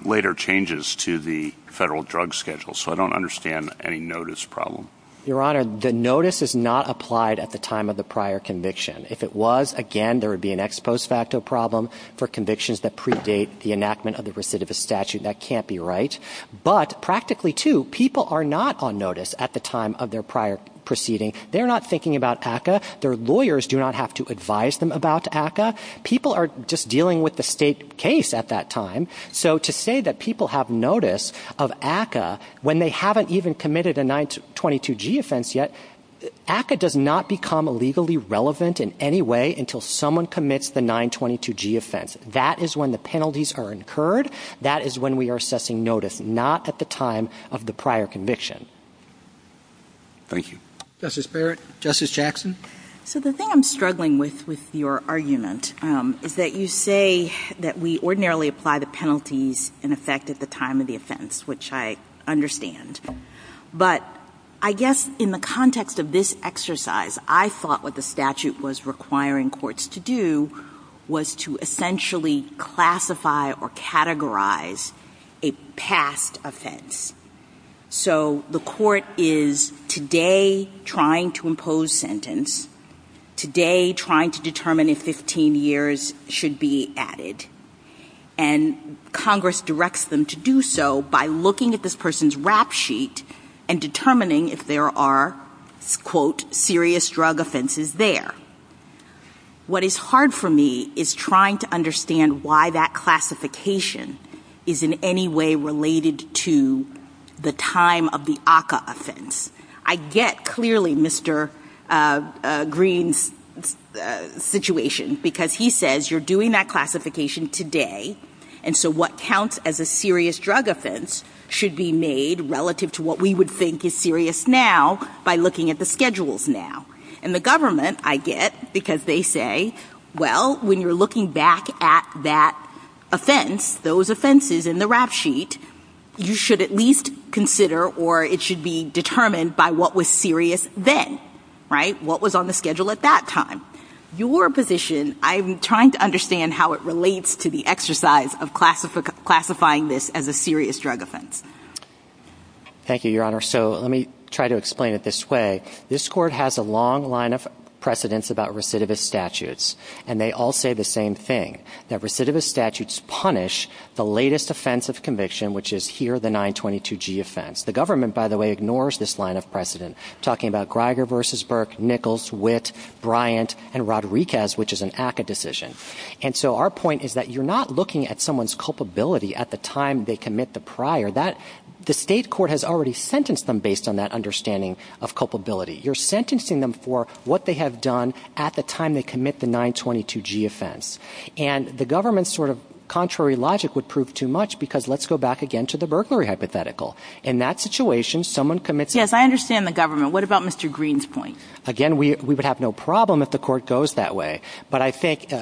later changes to the federal drug schedule. So I don't understand any notice problem. Your Honor, the notice is not applied at the time of the prior conviction. If it was, again, there would be an ex post facto problem for convictions that predate the enactment of the recidivist statute. That can't be right. But practically, too, people are not on notice at the time of their prior proceeding. They're not thinking about ACCA. Their lawyers do not have to advise them about ACCA. People are just dealing with the state case at that time. So to say that people have notice of ACCA when they haven't even committed a 922G offense yet, ACCA does not become legally relevant in any way until someone commits the 922G offense. That is when the penalties are incurred. That is when we are assessing notice, not at the time of the prior conviction. Thank you. Justice Barrett? Justice Jackson? So the thing I'm struggling with, with your argument, is that you say that we ordinarily apply the penalties in effect at the time of the offense, which I understand. But I guess in the context of this exercise, I thought what the statute was requiring courts to do was to essentially classify or categorize a past offense. So the court is today trying to impose sentence, today trying to determine if 15 years should be added, and Congress directs them to do so by looking at this person's rap sheet and determining if there are, quote, serious drug offenses there. What is hard for me is trying to understand why that classification is in any way related to the time of the ACCA offense. I get clearly Mr. Green's situation, because he says you're doing that classification today, and so what counts as a serious drug offense should be made relative to what we would think is serious now by looking at the schedules now. And the government, I get, because they say, well, when you're looking back at that offense, those offenses in the rap sheet, you should at least consider or it should be determined by what was serious then, right? What was on the schedule at that time? Your position, I'm trying to understand how it relates to the exercise of classifying this as a serious drug offense. Thank you, Your Honor. So let me try to explain it this way. This Court has a long line of precedents about recidivist statutes, and they all say the same thing, that recidivist statutes punish the latest offense of conviction, which is here the 922G offense. The government, by the way, ignores this line of precedent, talking about Greiger v. Burke, Nichols, Witt, Bryant, and Rodriguez, which is an ACCA decision. And so our point is that you're not looking at someone's culpability at the time they commit the prior. The state court has already sentenced them based on that understanding of culpability. You're sentencing them for what they have done at the time they commit the 922G offense. And the government's sort of contrary logic would prove too much because let's go back again to the burglary hypothetical. In that situation, someone commits it. Yes, I understand the government. What about Mr. Green's point? Again, we would have no problem if the court goes that way. But I think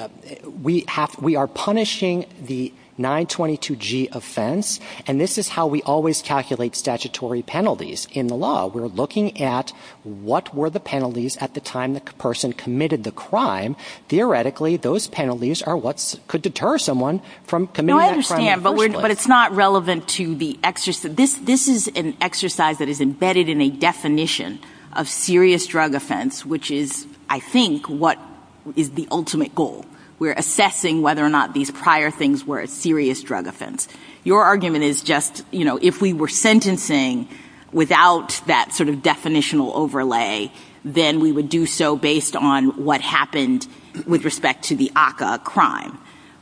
we are punishing the 922G offense, and this is how we always calculate statutory penalties in the law. We're looking at what were the penalties at the time the person committed the crime. Theoretically, those penalties are what could deter someone from committing that crime. No, I understand, but it's not relevant to the exercise. This is an exercise that is embedded in a definition of serious drug offense, which is, I think, what is the ultimate goal. We're assessing whether or not these prior things were a serious drug offense. Your argument is just, you know, if we were sentencing without that sort of definitional overlay, then we would do so based on what happened with respect to the ACCA crime.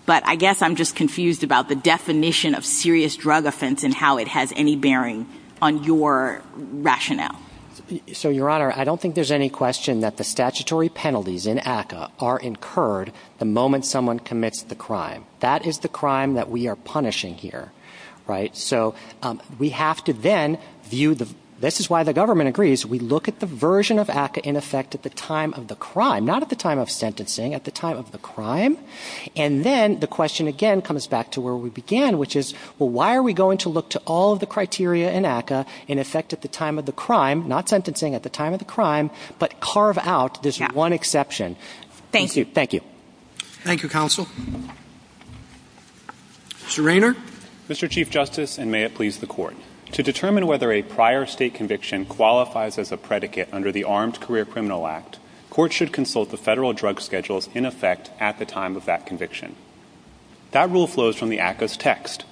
But I guess I'm just confused about the definition of serious drug offense and how it has any bearing on your rationale. So, Your Honor, I don't think there's any question that the statutory penalties in ACCA are incurred the moment someone commits the crime. That is the crime that we are punishing here, right? So we have to then view the—this is why the government agrees. We look at the version of ACCA in effect at the time of the crime, not at the time of sentencing, at the time of the crime. And then the question again comes back to where we began, which is, well, why are we going to look to all of the criteria in ACCA in effect at the time of the crime, not sentencing at the time of the crime, but carve out this one exception? Thank you. Thank you. Thank you, Counsel. Mr. Raynor? Mr. Chief Justice, and may it please the Court, to determine whether a prior state conviction qualifies as a predicate under the Armed Career Criminal Act, courts should consult the federal drug schedules in effect at the time of that conviction. That rule flows from the ACCA's text.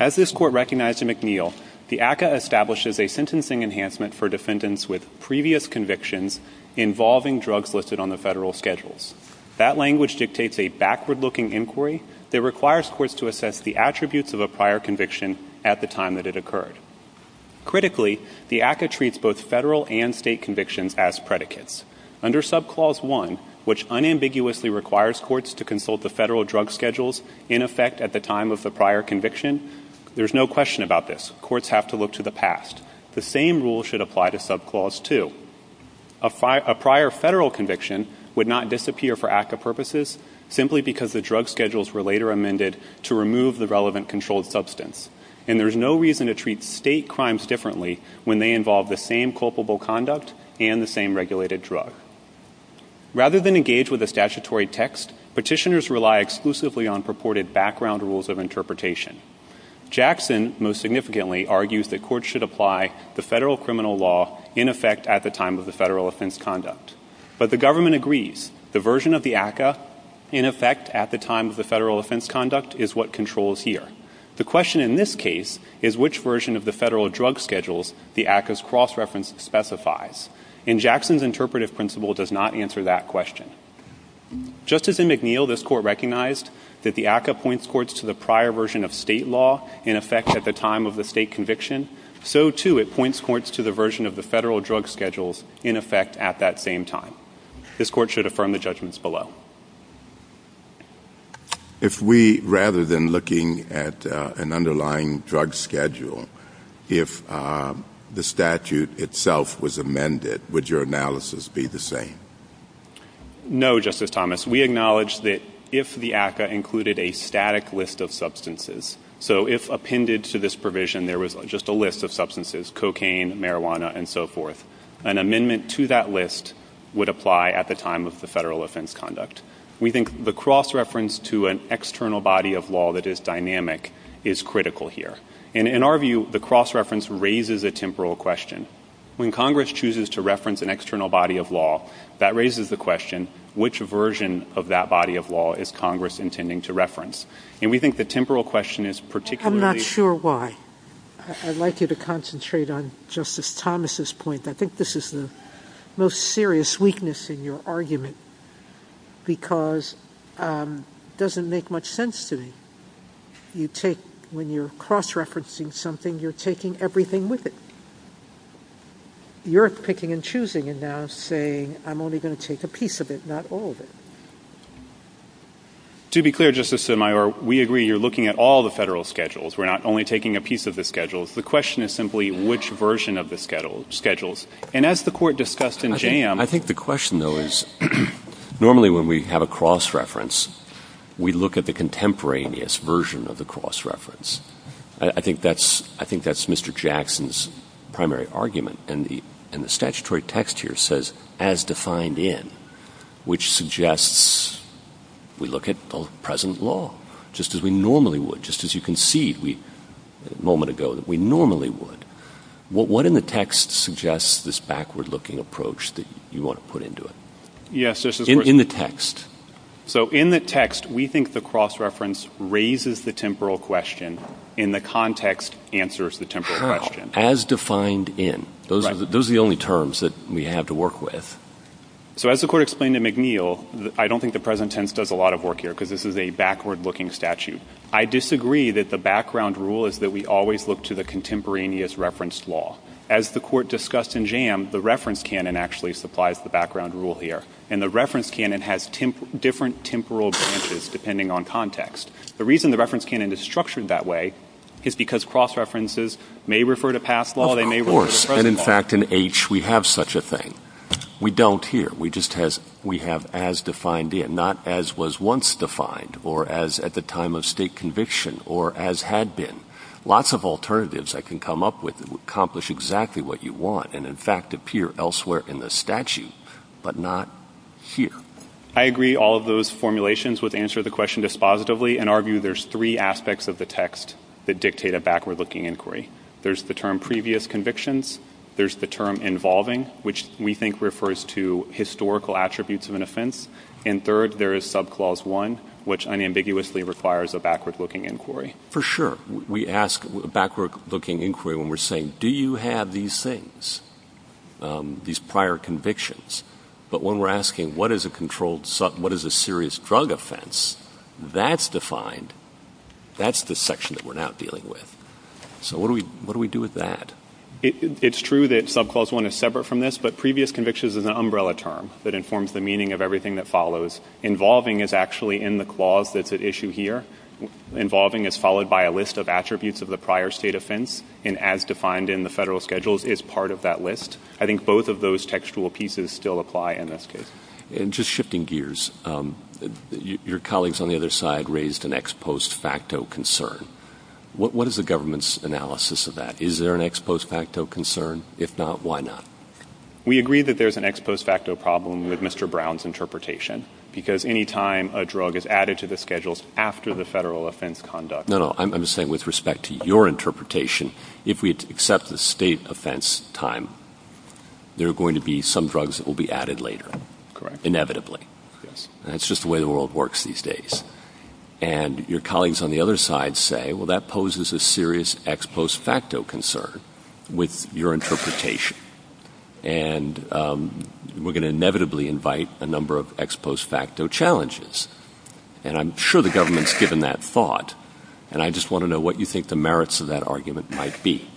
As this Court recognized in McNeil, the ACCA establishes a sentencing enhancement for defendants with previous convictions involving drugs listed on the federal schedules. That language dictates a backward-looking inquiry that requires courts to assess the attributes of a prior conviction at the time that it occurred. Critically, the ACCA treats both federal and state convictions as predicates. Under Subclause 1, which unambiguously requires courts to consult the federal drug schedules in effect at the time of the prior conviction, there is no question about this. Courts have to look to the past. The same rule should apply to Subclause 2. A prior federal conviction would not disappear for ACCA purposes simply because the drug schedules were later amended to remove the relevant controlled substance, and there is no reason to treat state crimes differently when they involve the same culpable conduct and the same regulated drug. Rather than engage with the statutory text, petitioners rely exclusively on purported background rules of interpretation. Jackson most significantly argues that courts should apply the federal criminal law in effect at the time of the federal offense conduct. But the government agrees the version of the ACCA in effect at the time of the federal offense conduct is what controls here. The question in this case is which version of the federal drug schedules the ACCA's cross-reference specifies, and Jackson's interpretive principle does not answer that question. Justice McNeil, this Court recognized that the ACCA points courts to the prior version of state law in effect at the time of the state conviction. So, too, it points courts to the version of the federal drug schedules in effect at that same time. This Court should affirm the judgments below. If we, rather than looking at an underlying drug schedule, if the statute itself was amended, would your analysis be the same? No, Justice Thomas. We acknowledge that if the ACCA included a static list of substances, so if appended to this provision there was just a list of substances, cocaine, marijuana, and so forth, an amendment to that list would apply at the time of the federal offense conduct. We think the cross-reference to an external body of law that is dynamic is critical here. And in our view, the cross-reference raises a temporal question. When Congress chooses to reference an external body of law, that raises the question, which version of that body of law is Congress intending to reference? And we think the temporal question is particularly... I'm not sure why. I'd like you to concentrate on Justice Thomas's point. I think this is the most serious weakness in your argument because it doesn't make much sense to me. When you're cross-referencing something, you're taking everything with it. You're picking and choosing and now saying, I'm only going to take a piece of it, not all of it. To be clear, Justice Sotomayor, we agree you're looking at all the federal schedules. We're not only taking a piece of the schedules. The question is simply which version of the schedules. And as the Court discussed in JAMB... I think the question, though, is normally when we have a cross-reference, we look at the contemporaneous version of the cross-reference. I think that's Mr. Jackson's primary argument. And the statutory text here says, as defined in, which suggests we look at the present law, just as we normally would, just as you concede a moment ago that we normally would. What in the text suggests this backward-looking approach that you want to put into it? In the text. So in the text, we think the cross-reference raises the temporal question and the context answers the temporal question. As defined in. Those are the only terms that we have to work with. So as the Court explained to McNeil, I don't think the present tense does a lot of work here because this is a backward-looking statute. I disagree that the background rule is that we always look to the contemporaneous reference law. As the Court discussed in JAMB, the reference canon actually supplies the background rule here. And the reference canon has different temporal branches depending on context. The reason the reference canon is structured that way is because cross-references may refer to past law, they may refer to present law. Of course, and in fact in H we have such a thing. We don't here. We just have as defined in, not as was once defined or as at the time of state conviction or as had been. Lots of alternatives I can come up with that would accomplish exactly what you want and in fact appear elsewhere in the statute, but not here. I agree all of those formulations would answer the question dispositively and argue there's three aspects of the text that dictate a backward-looking inquiry. There's the term previous convictions. There's the term involving, which we think refers to historical attributes of an offense. And third, there is subclause one, which unambiguously requires a backward-looking inquiry. For sure. We ask a backward-looking inquiry when we're saying, do you have these things, these prior convictions? But when we're asking what is a serious drug offense, that's defined. That's the section that we're now dealing with. So what do we do with that? It's true that subclause one is separate from this, but previous convictions is an umbrella term that informs the meaning of everything that follows. Involving is actually in the clause that's at issue here. Involving is followed by a list of attributes of the prior state offense, and as defined in the federal schedules, it's part of that list. I think both of those textual pieces still apply in this case. And just shifting gears, your colleagues on the other side raised an ex post facto concern. What is the government's analysis of that? Is there an ex post facto concern? If not, why not? We agree that there's an ex post facto problem with Mr. Brown's interpretation because any time a drug is added to the schedules after the federal offense conducts. No, no, I'm saying with respect to your interpretation, if we accept the state offense time, there are going to be some drugs that will be added later. Correct. Inevitably. That's just the way the world works these days. And your colleagues on the other side say, well, that poses a serious ex post facto concern with your interpretation. And we're going to inevitably invite a number of ex post facto challenges. And I'm sure the government's given that thought. And I just want to know what you think the merits of that argument might be.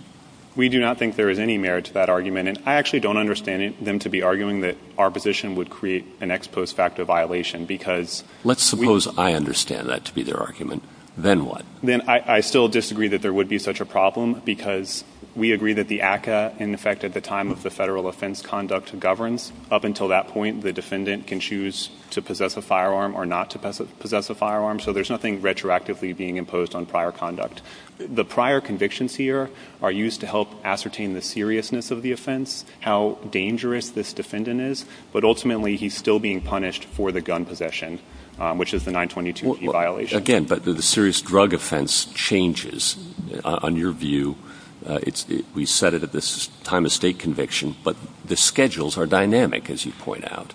We do not think there is any merit to that argument. And I actually don't understand them to be arguing that our position would create an ex post facto violation because. Let's suppose I understand that to be their argument. Then what? Then I still disagree that there would be such a problem because we agree that the ACA, in effect, at the time of the federal offense conduct, governs up until that point, the defendant can choose to possess a firearm or not to possess a firearm. So there's nothing retroactively being imposed on prior conduct. The prior convictions here are used to help ascertain the seriousness of the offense, how dangerous this defendant is. But ultimately, he's still being punished for the gun possession, which is the 922 violation. Again, but the serious drug offense changes on your view. We set it at this time of state conviction. But the schedules are dynamic, as you point out.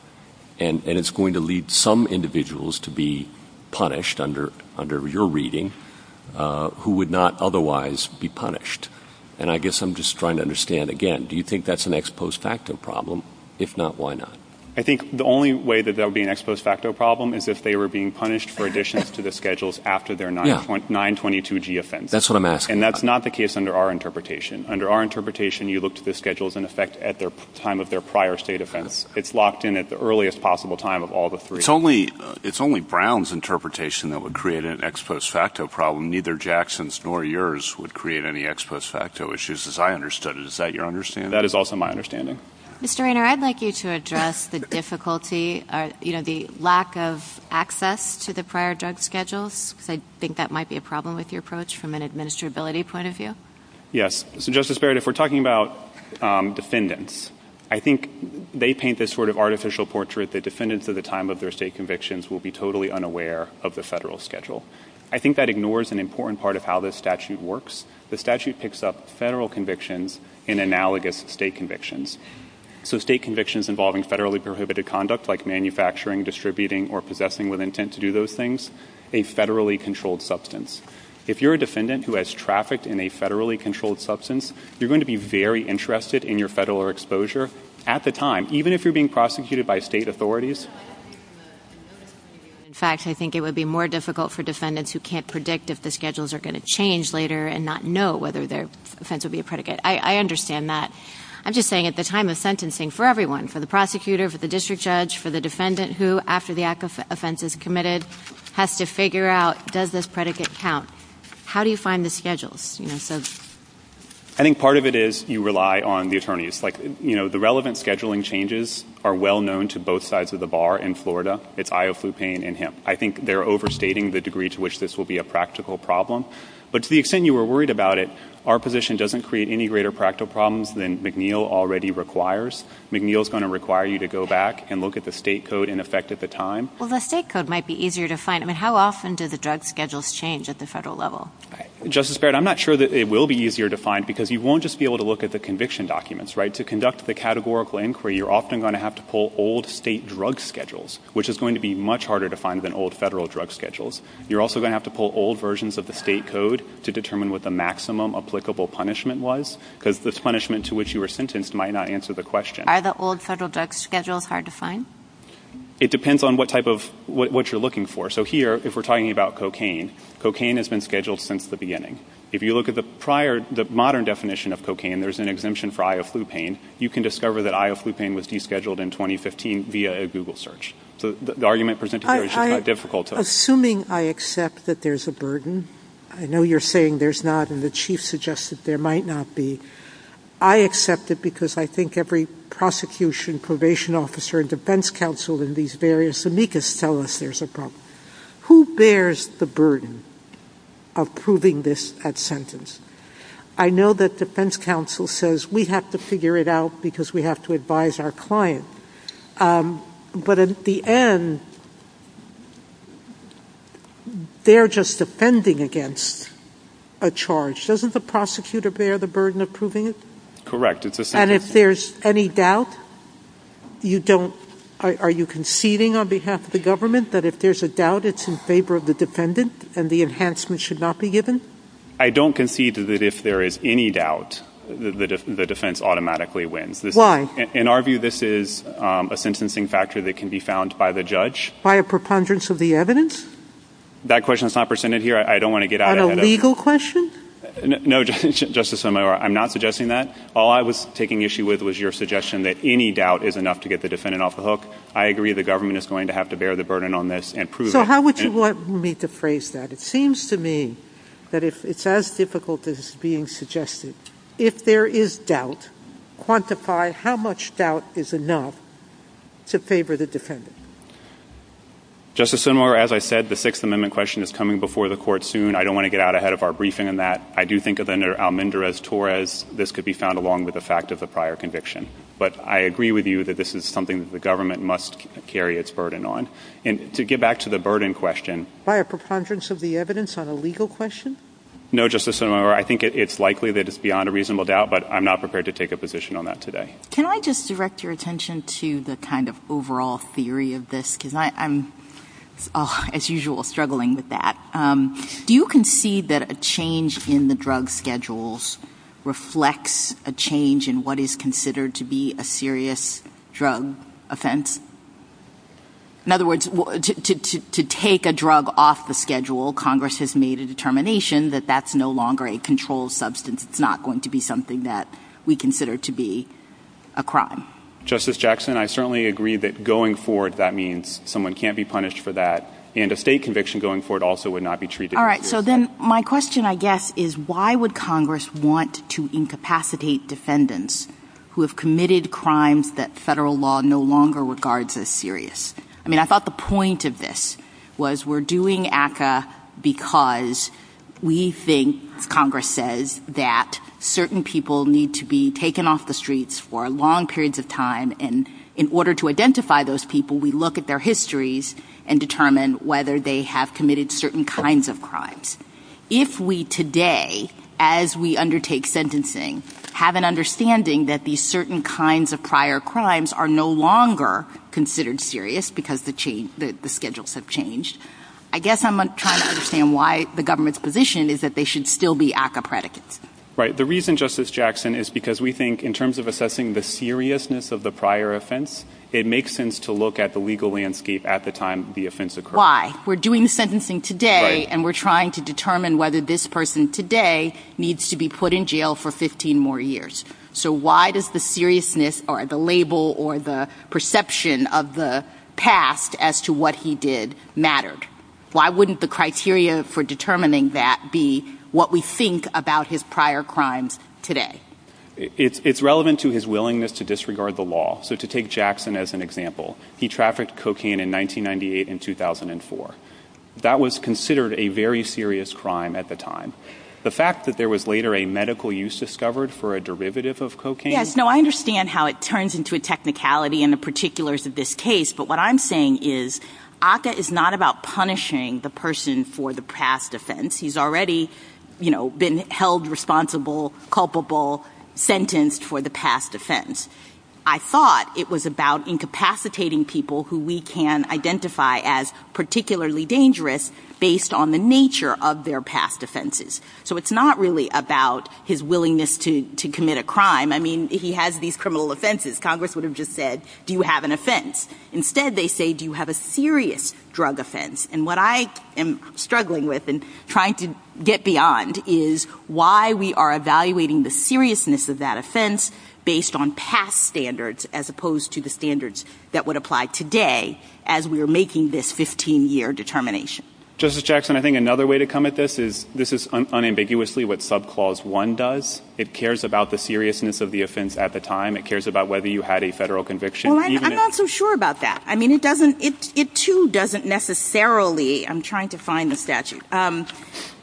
And it's going to lead some individuals to be punished under your reading who would not otherwise be punished. And I guess I'm just trying to understand, again, do you think that's an ex post facto problem? If not, why not? I think the only way that there would be an ex post facto problem is if they were being punished for additions to the schedules after their 922G offense. That's what I'm asking. And that's not the case under our interpretation. Under our interpretation, you look to the schedules in effect at the time of their prior state offense. It's locked in at the earliest possible time of all the three. It's only Brown's interpretation that would create an ex post facto problem. Neither Jackson's nor yours would create any ex post facto issues as I understood it. Is that your understanding? That is also my understanding. Mr. Rainer, I'd like you to address the difficulty, you know, the lack of access to the prior drug schedules. I think that might be a problem with your approach from an administrability point of view. Yes. So, Justice Barrett, if we're talking about defendants, I think they paint this sort of artificial portrait that defendants at the time of their state convictions will be totally unaware of the federal schedule. I think that ignores an important part of how this statute works. The statute picks up federal convictions in analogous state convictions. So, state convictions involving federally prohibited conduct like manufacturing, distributing, or possessing with intent to do those things, a federally controlled substance. If you're a defendant who has trafficked in a federally controlled substance, you're going to be very interested in your federal exposure at the time, even if you're being prosecuted by state authorities. In fact, I think it would be more difficult for defendants who can't predict if the schedules are going to change later and not know whether their offense would be a predicate. I understand that. I'm just saying at the time of sentencing, for everyone, for the prosecutor, for the district judge, for the defendant who, after the act of offense is committed, has to figure out, does this predicate count? How do you find the schedules? I think part of it is you rely on the attorneys. The relevant scheduling changes are well known to both sides of the bar in Florida. It's Ioflupane and Hemp. I think they're overstating the degree to which this will be a practical problem. But to the extent you were worried about it, our position doesn't create any greater practical problems than McNeil already requires. McNeil's going to require you to go back and look at the state code in effect at the time. Well, the state code might be easier to find. How often do the drug schedules change at the federal level? Justice Barrett, I'm not sure that it will be easier to find because you won't just be able to look at the conviction documents, right? To conduct the categorical inquiry, you're often going to have to pull old state drug schedules, which is going to be much harder to find than old federal drug schedules. You're also going to have to pull old versions of the state code to determine what the maximum applicable punishment was because this punishment to which you were sentenced might not answer the question. Are the old federal drug schedules hard to find? It depends on what type of what you're looking for. So here, if we're talking about cocaine, cocaine has been scheduled since the beginning. If you look at the modern definition of cocaine, there's an exemption for ioflupine. You can discover that ioflupine was descheduled in 2015 via a Google search. So the argument presented here is just that difficult. Assuming I accept that there's a burden, I know you're saying there's not and the chief suggested there might not be. I accept it because I think every prosecution, probation officer, and defense counsel in these various amicus tell us there's a problem. Who bears the burden of proving this sentence? I know that defense counsel says we have to figure it out because we have to advise our client. But at the end, they're just defending against a charge. Doesn't the prosecutor bear the burden of proving it? Correct. And if there's any doubt, are you conceding on behalf of the government that if there's a doubt, it's in favor of the defendant and the enhancement should not be given? I don't concede that if there is any doubt, the defense automatically wins. Why? In our view, this is a sentencing factor that can be found by the judge. By a preponderance of the evidence? That question is not presented here. On a legal question? No, Justice Sotomayor, I'm not suggesting that. All I was taking issue with was your suggestion that any doubt is enough to get the defendant off the hook. I agree the government is going to have to bear the burden on this and prove it. So how would you want me to phrase that? It seems to me that it's as difficult as it's being suggested. If there is doubt, quantify how much doubt is enough to favor the defendant. Justice Sotomayor, as I said, the Sixth Amendment question is coming before the court soon. I don't want to get out ahead of our briefing on that. I do think that under Almendrez-Torres, this could be found along with the fact of the prior conviction. But I agree with you that this is something that the government must carry its burden on. And to get back to the burden question. By a preponderance of the evidence on a legal question? No, Justice Sotomayor, I think it's likely that it's beyond a reasonable doubt, but I'm not prepared to take a position on that today. Can I just direct your attention to the kind of overall theory of this? Because I'm, as usual, struggling with that. Do you concede that a change in the drug schedules reflects a change in what is considered to be a serious drug offense? In other words, to take a drug off the schedule, Congress has made a determination that that's no longer a controlled substance. It's not going to be something that we consider to be a crime. Justice Jackson, I certainly agree that going forward, that means someone can't be punished for that. And a state conviction going forward also would not be treated as serious. All right, so then my question, I guess, is why would Congress want to incapacitate defendants who have committed crimes that federal law no longer regards as serious? I mean, I thought the point of this was we're doing ACCA because we think, Congress says, that certain people need to be taken off the streets for long periods of time. And in order to identify those people, we look at their histories and determine whether they have committed certain kinds of crimes. If we today, as we undertake sentencing, have an understanding that these certain kinds of prior crimes are no longer considered serious because the schedules have changed, I guess I'm trying to understand why the government's position is that they should still be ACCA predicates. Right, the reason, Justice Jackson, is because we think in terms of assessing the seriousness of the prior offense, it makes sense to look at the legal landscape at the time the offense occurred. Why? We're doing the sentencing today and we're trying to determine whether this person today needs to be put in jail for 15 more years. So why does the seriousness or the label or the perception of the past as to what he did matter? Why wouldn't the criteria for determining that be what we think about his prior crimes today? It's relevant to his willingness to disregard the law. So to take Jackson as an example, he trafficked cocaine in 1998 and 2004. That was considered a very serious crime at the time. The fact that there was later a medical use discovered for a derivative of cocaine... Yes, no, I understand how it turns into a technicality in the particulars of this case, but what I'm saying is ACCA is not about punishing the person for the past offense. He's already, you know, been held responsible, culpable, sentenced for the past offense. I thought it was about incapacitating people who we can identify as particularly dangerous based on the nature of their past offenses. So it's not really about his willingness to commit a crime. I mean, if he had these criminal offenses, Congress would have just said, do you have an offense? Instead, they say, do you have a serious drug offense? And what I am struggling with and trying to get beyond is why we are evaluating the seriousness of that offense based on past standards as opposed to the standards that would apply today as we are making this 15-year determination. Justice Jackson, I think another way to come at this is this is unambiguously what subclause 1 does. It cares about the seriousness of the offense at the time. It cares about whether you had a federal conviction. Well, I'm not so sure about that. I mean, it doesn't... it too doesn't necessarily... I'm trying to find the statute.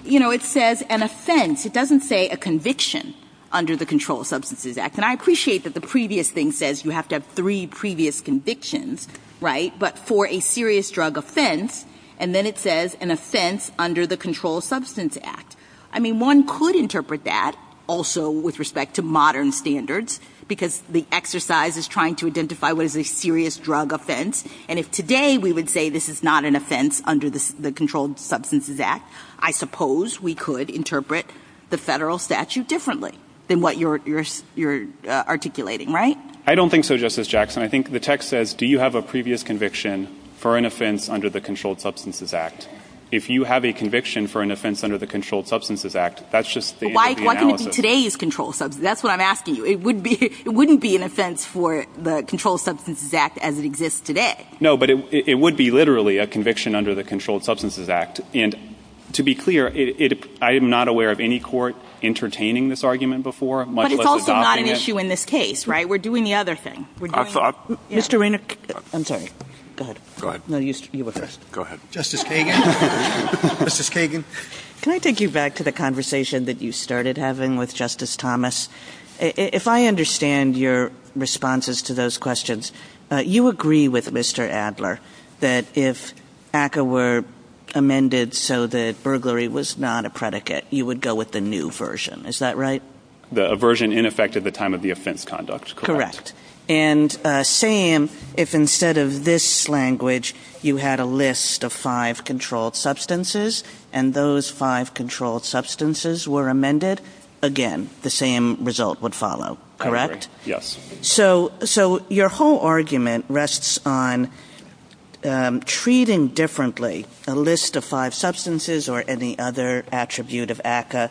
You know, it says an offense. It doesn't say a conviction under the Controlled Substances Act. And I appreciate that the previous thing says you have to have three previous convictions, right? But for a serious drug offense, and then it says an offense under the Controlled Substances Act. I mean, one could interpret that also with respect to modern standards because the exercise is trying to identify what is a serious drug offense. And if today we would say this is not an offense under the Controlled Substances Act, I suppose we could interpret the federal statute differently than what you're articulating, right? I don't think so, Justice Jackson. I think the text says, do you have a previous conviction for an offense under the Controlled Substances Act? If you have a conviction for an offense under the Controlled Substances Act, that's just the end of the analysis. Why couldn't it be today's Controlled Substances? That's what I'm asking you. It wouldn't be an offense for the Controlled Substances Act as it exists today. No, but it would be literally a conviction under the Controlled Substances Act. And to be clear, I am not aware of any court entertaining this argument before, much less adopting it. But it's also not an issue in this case, right? We're doing the other thing. Mr. Rainer, I'm sorry. Go ahead. Go ahead. No, you were first. Go ahead. Justice Kagan. Justice Kagan. Can I take you back to the conversation that you started having with Justice Thomas? If I understand your responses to those questions, you agree with Mr. Adler that if ACCA were amended so that burglary was not a predicate, you would go with the new version. Is that right? The version in effect at the time of the offense conduct. Correct. And same if instead of this language you had a list of five controlled substances and those five controlled substances were amended, again, the same result would follow. Correct? Yes. So your whole argument rests on treating differently a list of five substances or any other attribute of ACCA,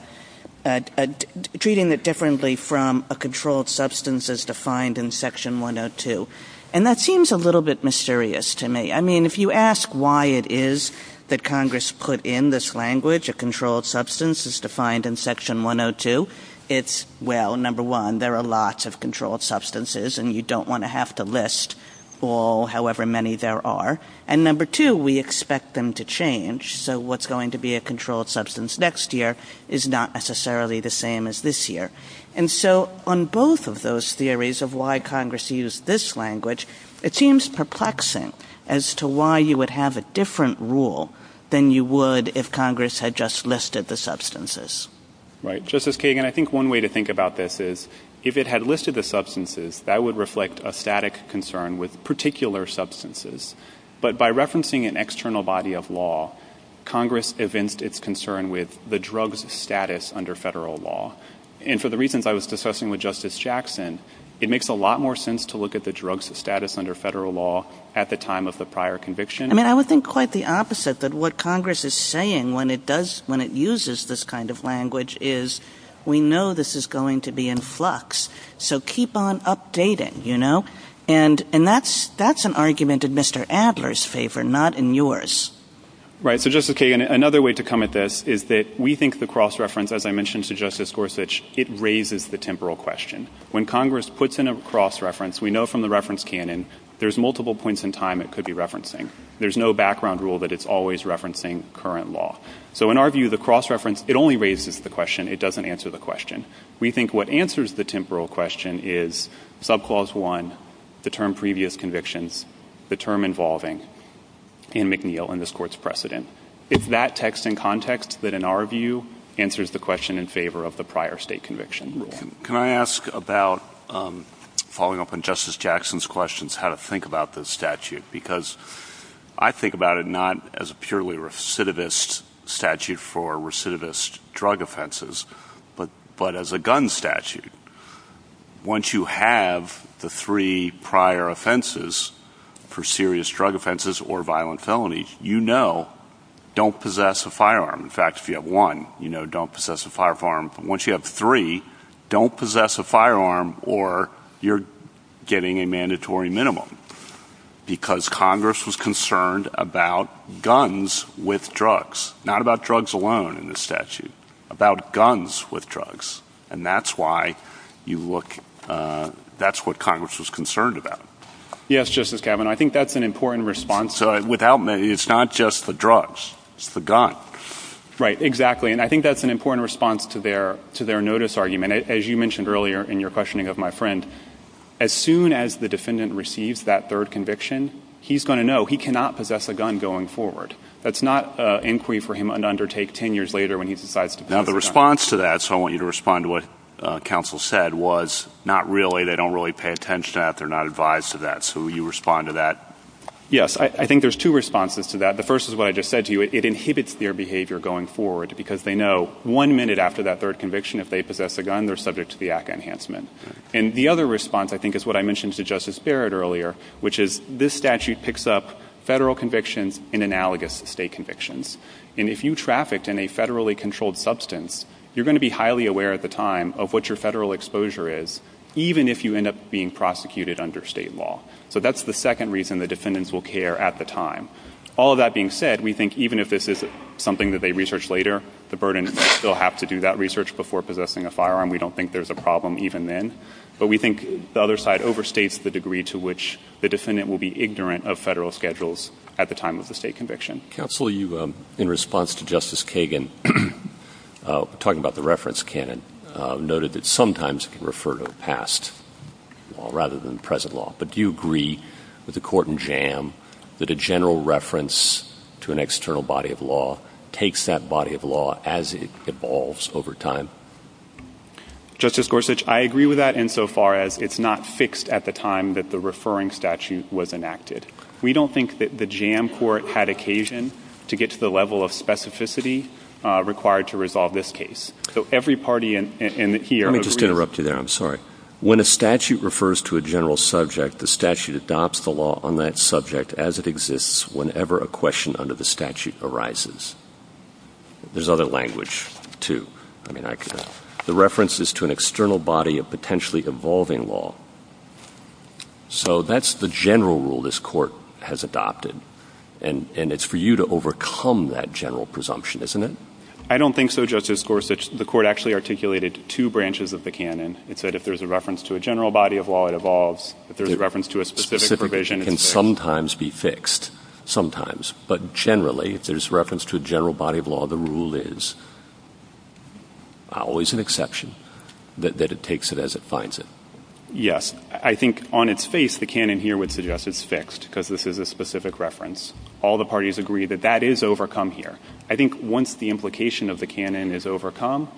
treating it differently from a controlled substance as defined in Section 102. And that seems a little bit mysterious to me. I mean, if you ask why it is that Congress put in this language, a controlled substance is defined in Section 102, it's, well, number one, there are lots of controlled substances and you don't want to have to list all, however many there are. And number two, we expect them to change. So what's going to be a controlled substance next year is not necessarily the same as this year. And so on both of those theories of why Congress used this language, it seems perplexing as to why you would have a different rule than you would if Congress had just listed the substances. Right. Justice Kagan, I think one way to think about this is if it had listed the substances, that would reflect a static concern with particular substances. But by referencing an external body of law, Congress evinced its concern with the drugs status under federal law. And for the reasons I was discussing with Justice Jackson, it makes a lot more sense to look at the drugs status under federal law at the time of the prior conviction. I mean, I would think quite the opposite, that what Congress is saying when it uses this kind of language is we know this is going to be in flux, so keep on updating, you know. And that's an argument in Mr. Adler's favor, not in yours. Right. So, Justice Kagan, another way to come at this is that we think the cross-reference, as I mentioned to Justice Gorsuch, it raises the temporal question. When Congress puts in a cross-reference, we know from the reference canon there's multiple points in time it could be referencing. There's no background rule that it's always referencing current law. So in our view, the cross-reference, it only raises the question. It doesn't answer the question. We think what answers the temporal question is Subclause 1, the term previous conviction, the term involving Anne McNeil in this Court's precedent. It's that text and context that, in our view, answers the question in favor of the prior state conviction. Can I ask about, following up on Justice Jackson's questions, how to think about this statute? Because I think about it not as a purely recidivist statute for recidivist drug offenses, but as a gun statute. Once you have the three prior offenses for serious drug offenses or violent felony, you know don't possess a firearm. In fact, if you have one, you know don't possess a firearm. Once you have three, don't possess a firearm or you're getting a mandatory minimum. Because Congress was concerned about guns with drugs, not about drugs alone in this statute, about guns with drugs. And that's why you look at what Congress was concerned about. Yes, Justice Kavanaugh, I think that's an important response. So it's not just the drugs, it's the gun. Right, exactly. And I think that's an important response to their notice argument. As you mentioned earlier in your questioning of my friend, as soon as the defendant receives that third conviction, he's going to know. He cannot possess a gun going forward. That's not an inquiry for him to undertake ten years later when he decides to possess a gun. Now the response to that, so I want you to respond to what counsel said, was not really, they don't really pay attention to that, they're not advised to that. So will you respond to that? Yes, I think there's two responses to that. The first is what I just said to you, it inhibits their behavior going forward because they know one minute after that third conviction, if they possess a gun, they're subject to the act of enhancement. And the other response, I think, is what I mentioned to Justice Barrett earlier, which is this statute picks up federal convictions and analogous state convictions. And if you're trafficked in a federally controlled substance, you're going to be highly aware at the time of what your federal exposure is, even if you end up being prosecuted under state law. So that's the second reason the defendants will care at the time. All that being said, we think even if this is something that they research later, the burden is they still have to do that research before possessing a firearm. We don't think there's a problem even then. But we think the other side overstates the degree to which the defendant will be ignorant of federal schedules at the time of the state conviction. Counsel, you, in response to Justice Kagan, talking about the reference canon, noted that sometimes it can refer to the past rather than present law. But do you agree with the court in JAM that a general reference to an external body of law takes that body of law as it evolves over time? Justice Gorsuch, I agree with that insofar as it's not fixed at the time that the referring statute was enacted. We don't think that the JAM court had occasion to get to the level of specificity required to resolve this case. So every party in here— Let me just interrupt you there. I'm sorry. When a statute refers to a general subject, the statute adopts the law on that subject as it exists whenever a question under the statute arises. There's other language, too. The reference is to an external body of potentially evolving law. So that's the general rule this court has adopted. And it's for you to overcome that general presumption, isn't it? I don't think so, Justice Gorsuch. The court actually articulated two branches of the canon. It said if there's a reference to a general body of law, it evolves. If there's a reference to a specific provision— It can sometimes be fixed. Sometimes. But generally, if there's a reference to a general body of law, the rule is— always an exception— that it takes it as it finds it. Yes. I think on its face, the canon here would suggest it's fixed because this is a specific reference. All the parties agree that that is overcome here. I think once the implication of the canon is overcome,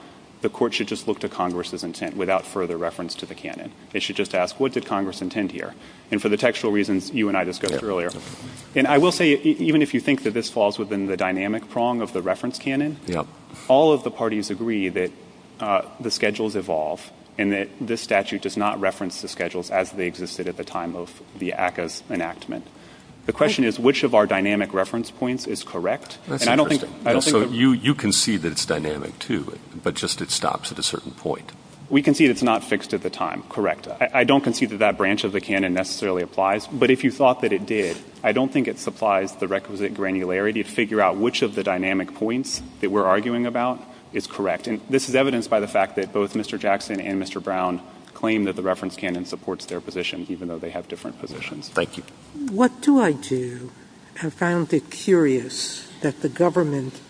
the court should just look to Congress's intent without further reference to the canon. It should just ask, what did Congress intend here? And for the textual reasons you and I discussed earlier— even if you think that this falls within the dynamic prong of the reference canon— all of the parties agree that the schedules evolve and that this statute does not reference the schedules as they existed at the time of the ACCA's enactment. The question is, which of our dynamic reference points is correct? That's interesting. You concede that it's dynamic, too, but just it stops at a certain point. We concede it's not fixed at the time. Correct. I don't concede that that branch of the canon necessarily applies. But if you thought that it did, I don't think it supplies the requisite granularity to figure out which of the dynamic points that we're arguing about is correct. And this is evidenced by the fact that both Mr. Jackson and Mr. Brown claim that the reference canon supports their positions, even though they have different positions. Thank you. What do I do? I found it curious that the government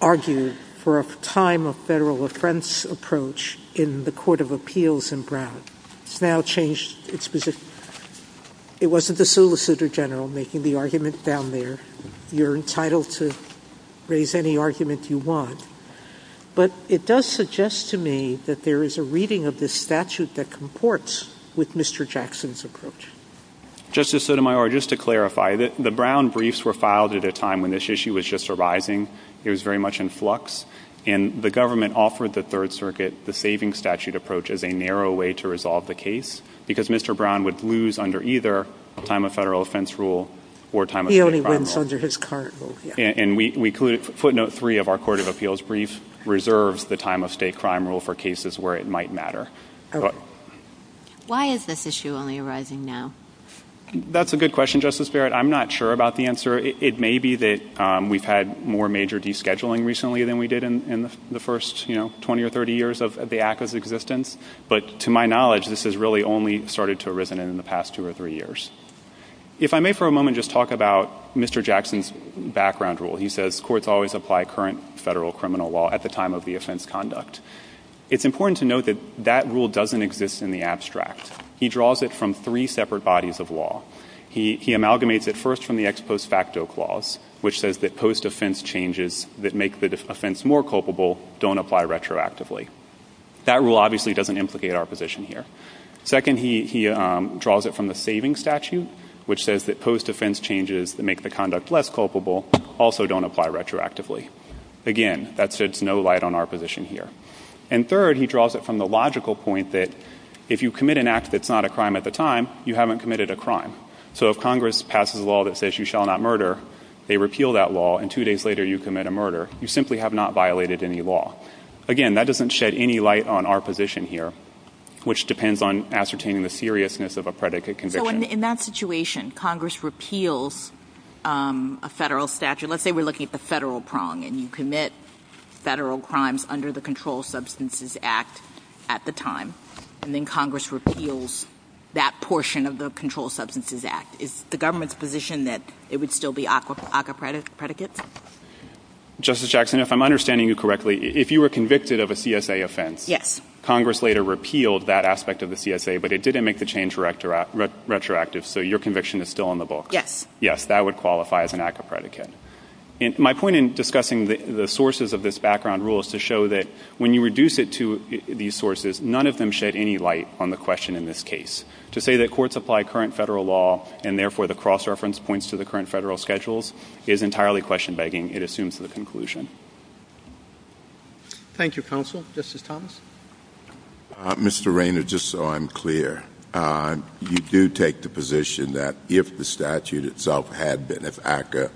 argued for a time-of-federal-offense approach in the Court of Appeals in Brown. It's now changed its position. It wasn't the Solicitor General making the argument down there. You're entitled to raise any argument you want. But it does suggest to me that there is a reading of this statute that comports with Mr. Jackson's approach. Justice Sotomayor, just to clarify, the Brown briefs were filed at a time when this issue was just arising. It was very much in flux. And the government offered the Third Circuit the saving statute approach as a narrow way to resolve the case because Mr. Brown would lose under either time-of-federal-offense rule or time-of-state-crime rule. He only wins under his cart rule. And footnote three of our Court of Appeals brief reserves the time-of-state-crime rule for cases where it might matter. Why is this issue only arising now? That's a good question, Justice Barrett. I'm not sure about the answer. It may be that we've had more major descheduling recently than we did in the first, you know, 20 or 30 years of the ACCA's existence. But to my knowledge, this has really only started to arisen in the past two or three years. If I may for a moment just talk about Mr. Jackson's background rule. He says courts always apply current federal criminal law at the time of the offense conduct. It's important to note that that rule doesn't exist in the abstract. He draws it from three separate bodies of law. He amalgamates it first from the ex post facto clause, which says that post-offense changes that make the offense more culpable don't apply retroactively. That rule obviously doesn't implicate our position here. Second, he draws it from the saving statute, which says that post-offense changes that make the conduct less culpable also don't apply retroactively. Again, that sheds no light on our position here. And third, he draws it from the logical point that if you commit an act that's not a crime at the time, you haven't committed a crime. So if Congress passes a law that says you shall not murder, they repeal that law, and two days later you commit a murder, you simply have not violated any law. Again, that doesn't shed any light on our position here, which depends on ascertaining the seriousness of a predicate conviction. So in that situation, Congress repeals a federal statute. Let's say we're looking at the federal prong, and you commit federal crimes under the Controlled Substances Act at the time, and then Congress repeals that portion of the Controlled Substances Act. Is the government's position that it would still be acapredicate? Justice Jackson, if I'm understanding you correctly, if you were convicted of a CSA offense, Congress later repealed that aspect of the CSA, but it didn't make the change retroactive, so your conviction is still on the books. Yes. Yes, that would qualify as an acapredicate. My point in discussing the sources of this background rule is to show that when you reduce it to these sources, none of them shed any light on the question in this case. To say that courts apply current federal law and, therefore, the cross-reference points to the current federal schedules is entirely question-begging. It assumes the conclusion. Thank you, Counsel. Justice Thomas? Mr. Rayner, just so I'm clear, you do take the position that if the statute itself had been, if ACCA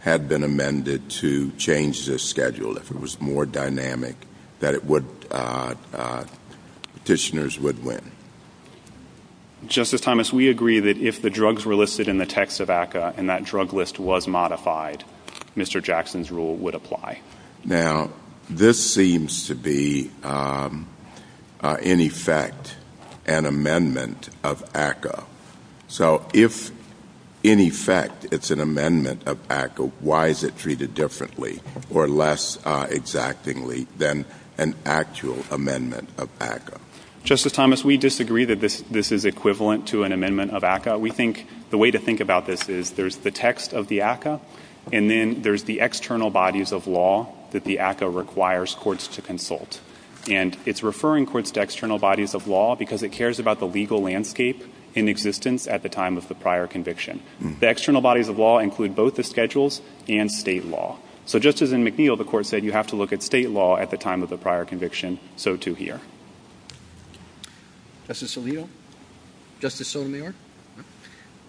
had been amended to change this schedule, if it was more dynamic, that petitioners would win? Justice Thomas, we agree that if the drugs were listed in the text of ACCA and that drug list was modified, Mr. Jackson's rule would apply. Now, this seems to be, in effect, an amendment of ACCA. So if, in effect, it's an amendment of ACCA, why is it treated differently or less exactingly than an actual amendment of ACCA? Justice Thomas, we disagree that this is equivalent to an amendment of ACCA. We think the way to think about this is there's the text of the ACCA, and then there's the external bodies of law that the ACCA requires courts to consult. And it's referring courts to external bodies of law because it cares about the legal landscape in existence at the time of the prior conviction. The external bodies of law include both the schedules and state law. So just as in McNeil, the Court said you have to look at state law at the time of the prior conviction, so too here. Justice Alito? Justice Sotomayor?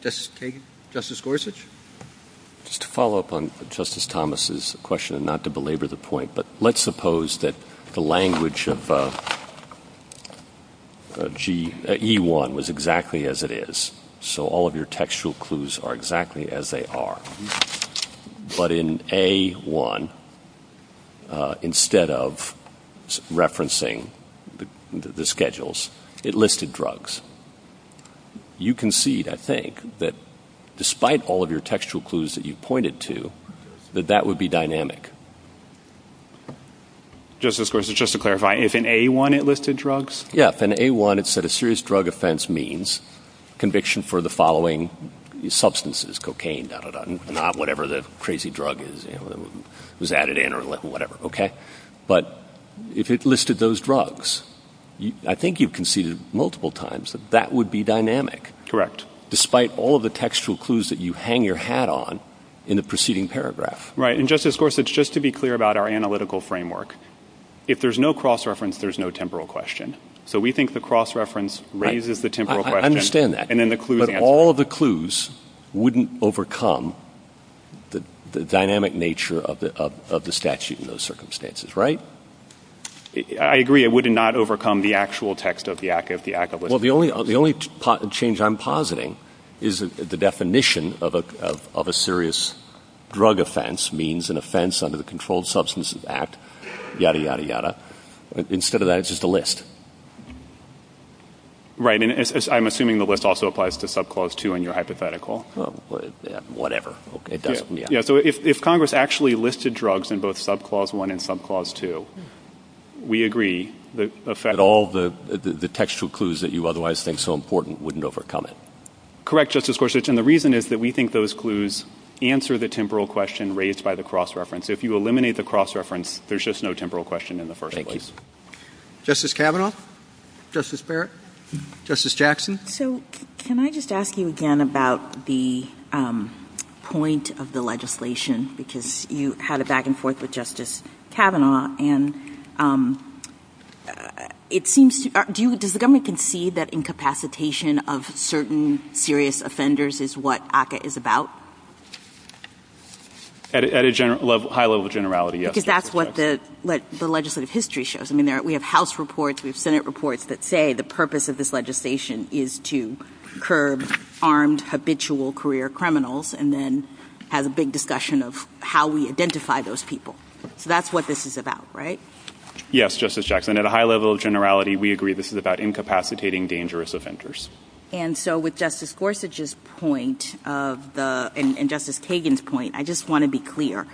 Justice Kagan? Justice Gorsuch? Just to follow up on Justice Thomas's question, and not to belabor the point, but let's suppose that the language of E-1 was exactly as it is, so all of your textual clues are exactly as they are. But in A-1, instead of referencing the schedules, it listed drugs. You concede, I think, that despite all of your textual clues that you pointed to, that that would be dynamic. Justice Gorsuch, just to clarify, is in A-1 it listed drugs? Yes. In A-1 it said a serious drug offense means conviction for the following substances, cocaine, da-da-da, not whatever the crazy drug was added in or whatever. But if it listed those drugs, I think you've conceded multiple times that that would be dynamic. Correct. Despite all of the textual clues that you hang your hat on in the preceding paragraph. Right. And Justice Gorsuch, just to be clear about our analytical framework, if there's no cross-reference, there's no temporal question. So we think the cross-reference raises the temporal question. I understand that. And then the clues... But all of the clues wouldn't overcome the dynamic nature of the statute in those circumstances, right? I agree. It would not overcome the actual text of the act of... Well, the only change I'm positing is that the definition of a serious drug offense means an offense under the Controlled Substances Act, ya-da, ya-da, ya-da. Instead of that, it's just a list. Right. And I'm assuming the list also applies to Subclause 2 in your hypothetical. Whatever. Yeah. So if Congress actually listed drugs in both Subclause 1 and Subclause 2, we agree that... That all the textual clues that you otherwise think so important wouldn't overcome it. Correct, Justice Gorsuch. And the reason is that we think those clues answer the temporal question raised by the cross-reference. So if you eliminate the cross-reference, there's just no temporal question in the first place. Thank you. Justice Kavanaugh? Justice Parrott? Justice Jackson? So can I just ask you again about the point of the legislation? Because you had a back-and-forth with Justice Kavanaugh. And it seems... Does the government concede that incapacitation of certain serious offenders is what ACCA is about? At a high level of generality, yes. Because that's what the legislative history shows. I mean, we have House reports, we have Senate reports that say the purpose of this legislation is to curb armed, habitual career criminals and then have a big discussion of how we identify those people. So that's what this is about, right? Yes, Justice Jackson. At a high level of generality, we agree this is about incapacitating dangerous offenders. And so with Justice Gorsuch's point and Justice Kagan's point, I just want to be clear.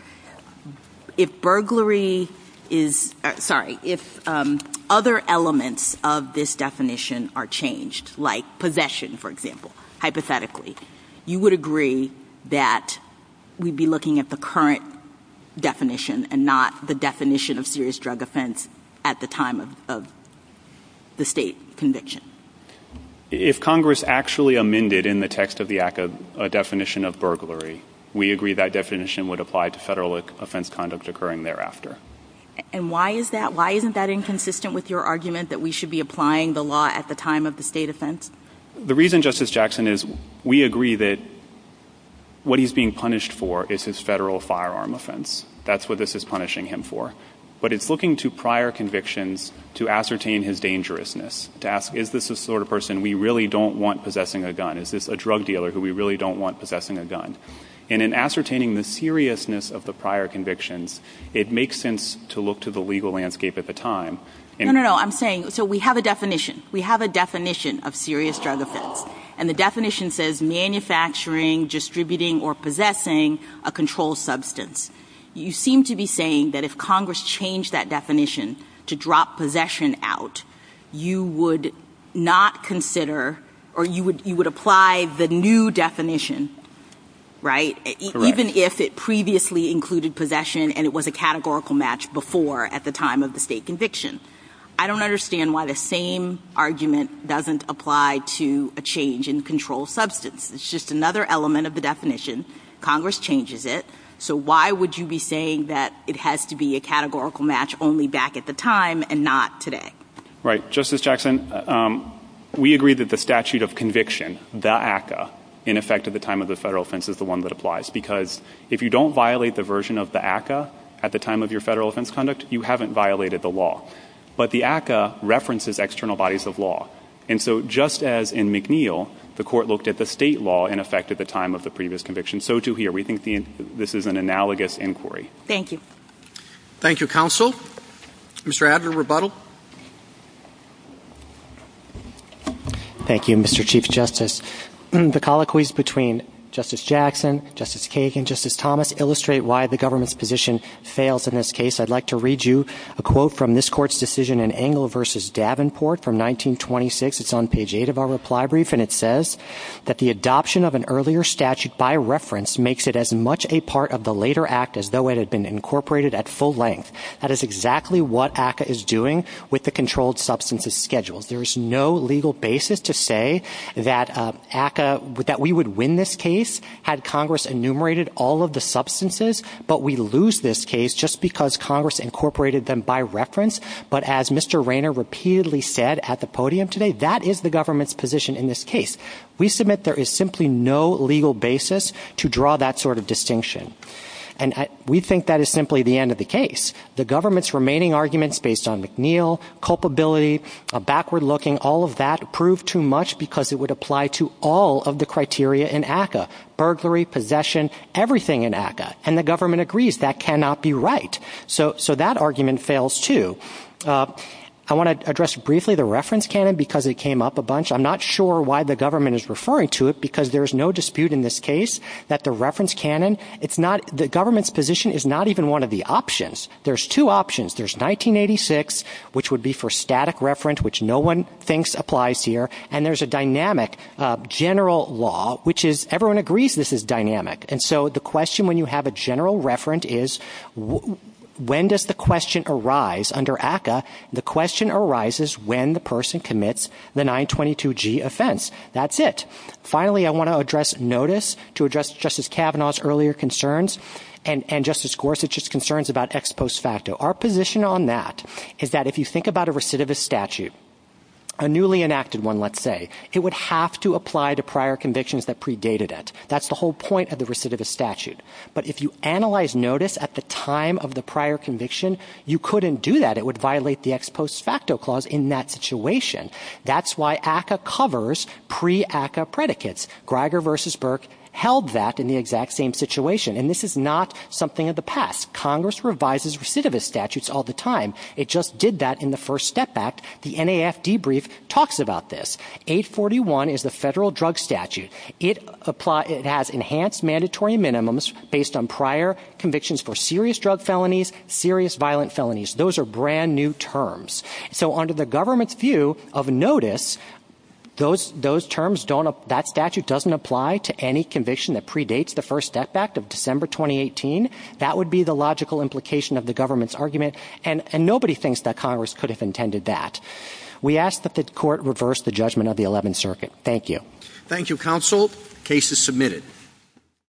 If burglary is... Sorry, if other elements of this definition are changed, like possession, for example, hypothetically, you would agree that we'd be looking at the current definition and not the definition of serious drug offense at the time of the state conviction? If Congress actually amended in the text of the ACCA a definition of burglary, we agree that definition would apply to federal offense conduct occurring thereafter. And why is that? Why isn't that inconsistent with your argument that we should be applying the law at the time of the state offense? The reason, Justice Jackson, is we agree that what he's being punished for is his federal firearm offense. That's what this is punishing him for. But it's looking to prior convictions to ascertain his dangerousness, to ask, is this the sort of person we really don't want possessing a gun? Is this a drug dealer who we really don't want possessing a gun? And in ascertaining the seriousness of the prior convictions, it makes sense to look to the legal landscape at the time. No, no, no. I'm saying, so we have a definition. We have a definition of serious drug offense, and the definition says manufacturing, distributing, or possessing a controlled substance. You seem to be saying that if Congress changed that definition to drop possession out, you would not consider or you would apply the new definition, right, even if it previously included possession and it was a categorical match before at the time of the state conviction. I don't understand why the same argument doesn't apply to a change in controlled substance. It's just another element of the definition. Congress changes it. So why would you be saying that it has to be a categorical match only back at the time and not today? Right. Justice Jackson, we agree that the statute of conviction, the ACCA, in effect at the time of the federal offense is the one that applies because if you don't violate the version of the ACCA at the time of your federal offense conduct, you haven't violated the law. But the ACCA references external bodies of law, and so just as in McNeil the court looked at the state law in effect at the time of the previous conviction, so too here. We think this is an analogous inquiry. Thank you. Thank you, counsel. Mr. Adler, rebuttal. Thank you, Mr. Chief Justice. The colloquies between Justice Jackson, Justice Kagan, Justice Thomas, illustrate why the government's position fails in this case. I'd like to read you a quote from this court's decision in Engle v. Davenport from 1926. It's on page 8 of our reply brief, and it says that the adoption of an earlier statute by reference makes it as much a part of the later act as though it had been incorporated at full length. That is exactly what ACCA is doing with the controlled substances schedule. There is no legal basis to say that we would win this case had Congress enumerated all of the substances, but we lose this case just because Congress incorporated them by reference. But as Mr. Rayner repeatedly said at the podium today, that is the government's position in this case. We submit there is simply no legal basis to draw that sort of distinction, and we think that is simply the end of the case. The government's remaining arguments based on McNeil, culpability, backward looking, all of that prove too much because it would apply to all of the criteria in ACCA, burglary, possession, everything in ACCA. And the government agrees that cannot be right. So that argument fails too. I want to address briefly the reference canon because it came up a bunch. I'm not sure why the government is referring to it because there is no dispute in this case that the reference canon, the government's position is not even one of the options. There is two options. There is 1986, which would be for static reference, which no one thinks applies here, and there is a dynamic general law, which is everyone agrees this is dynamic. And so the question when you have a general reference is when does the question arise under ACCA? The question arises when the person commits the 922G offense. That's it. Finally, I want to address notice to address Justice Kavanaugh's earlier concerns and Justice Gorsuch's concerns about ex post facto. Our position on that is that if you think about a recidivist statute, a newly enacted one, let's say, it would have to apply to prior convictions that predated it. That's the whole point of the recidivist statute. But if you analyze notice at the time of the prior conviction, you couldn't do that. It would violate the ex post facto clause in that situation. That's why ACCA covers pre-ACCA predicates. Greiger versus Burke held that in the exact same situation. And this is not something of the past. Congress revises recidivist statutes all the time. It just did that in the First Step Act. The NAF debrief talks about this. 841 is the federal drug statute. It has enhanced mandatory minimums based on prior convictions for serious drug felonies, serious violent felonies. Those are brand-new terms. So under the government's view of notice, those terms don't apply. That statute doesn't apply to any conviction that predates the First Step Act of December 2018. That would be the logical implication of the government's argument. And nobody thinks that Congress could have intended that. We ask that the court reverse the judgment of the Eleventh Circuit. Thank you. Thank you, counsel. Case is submitted.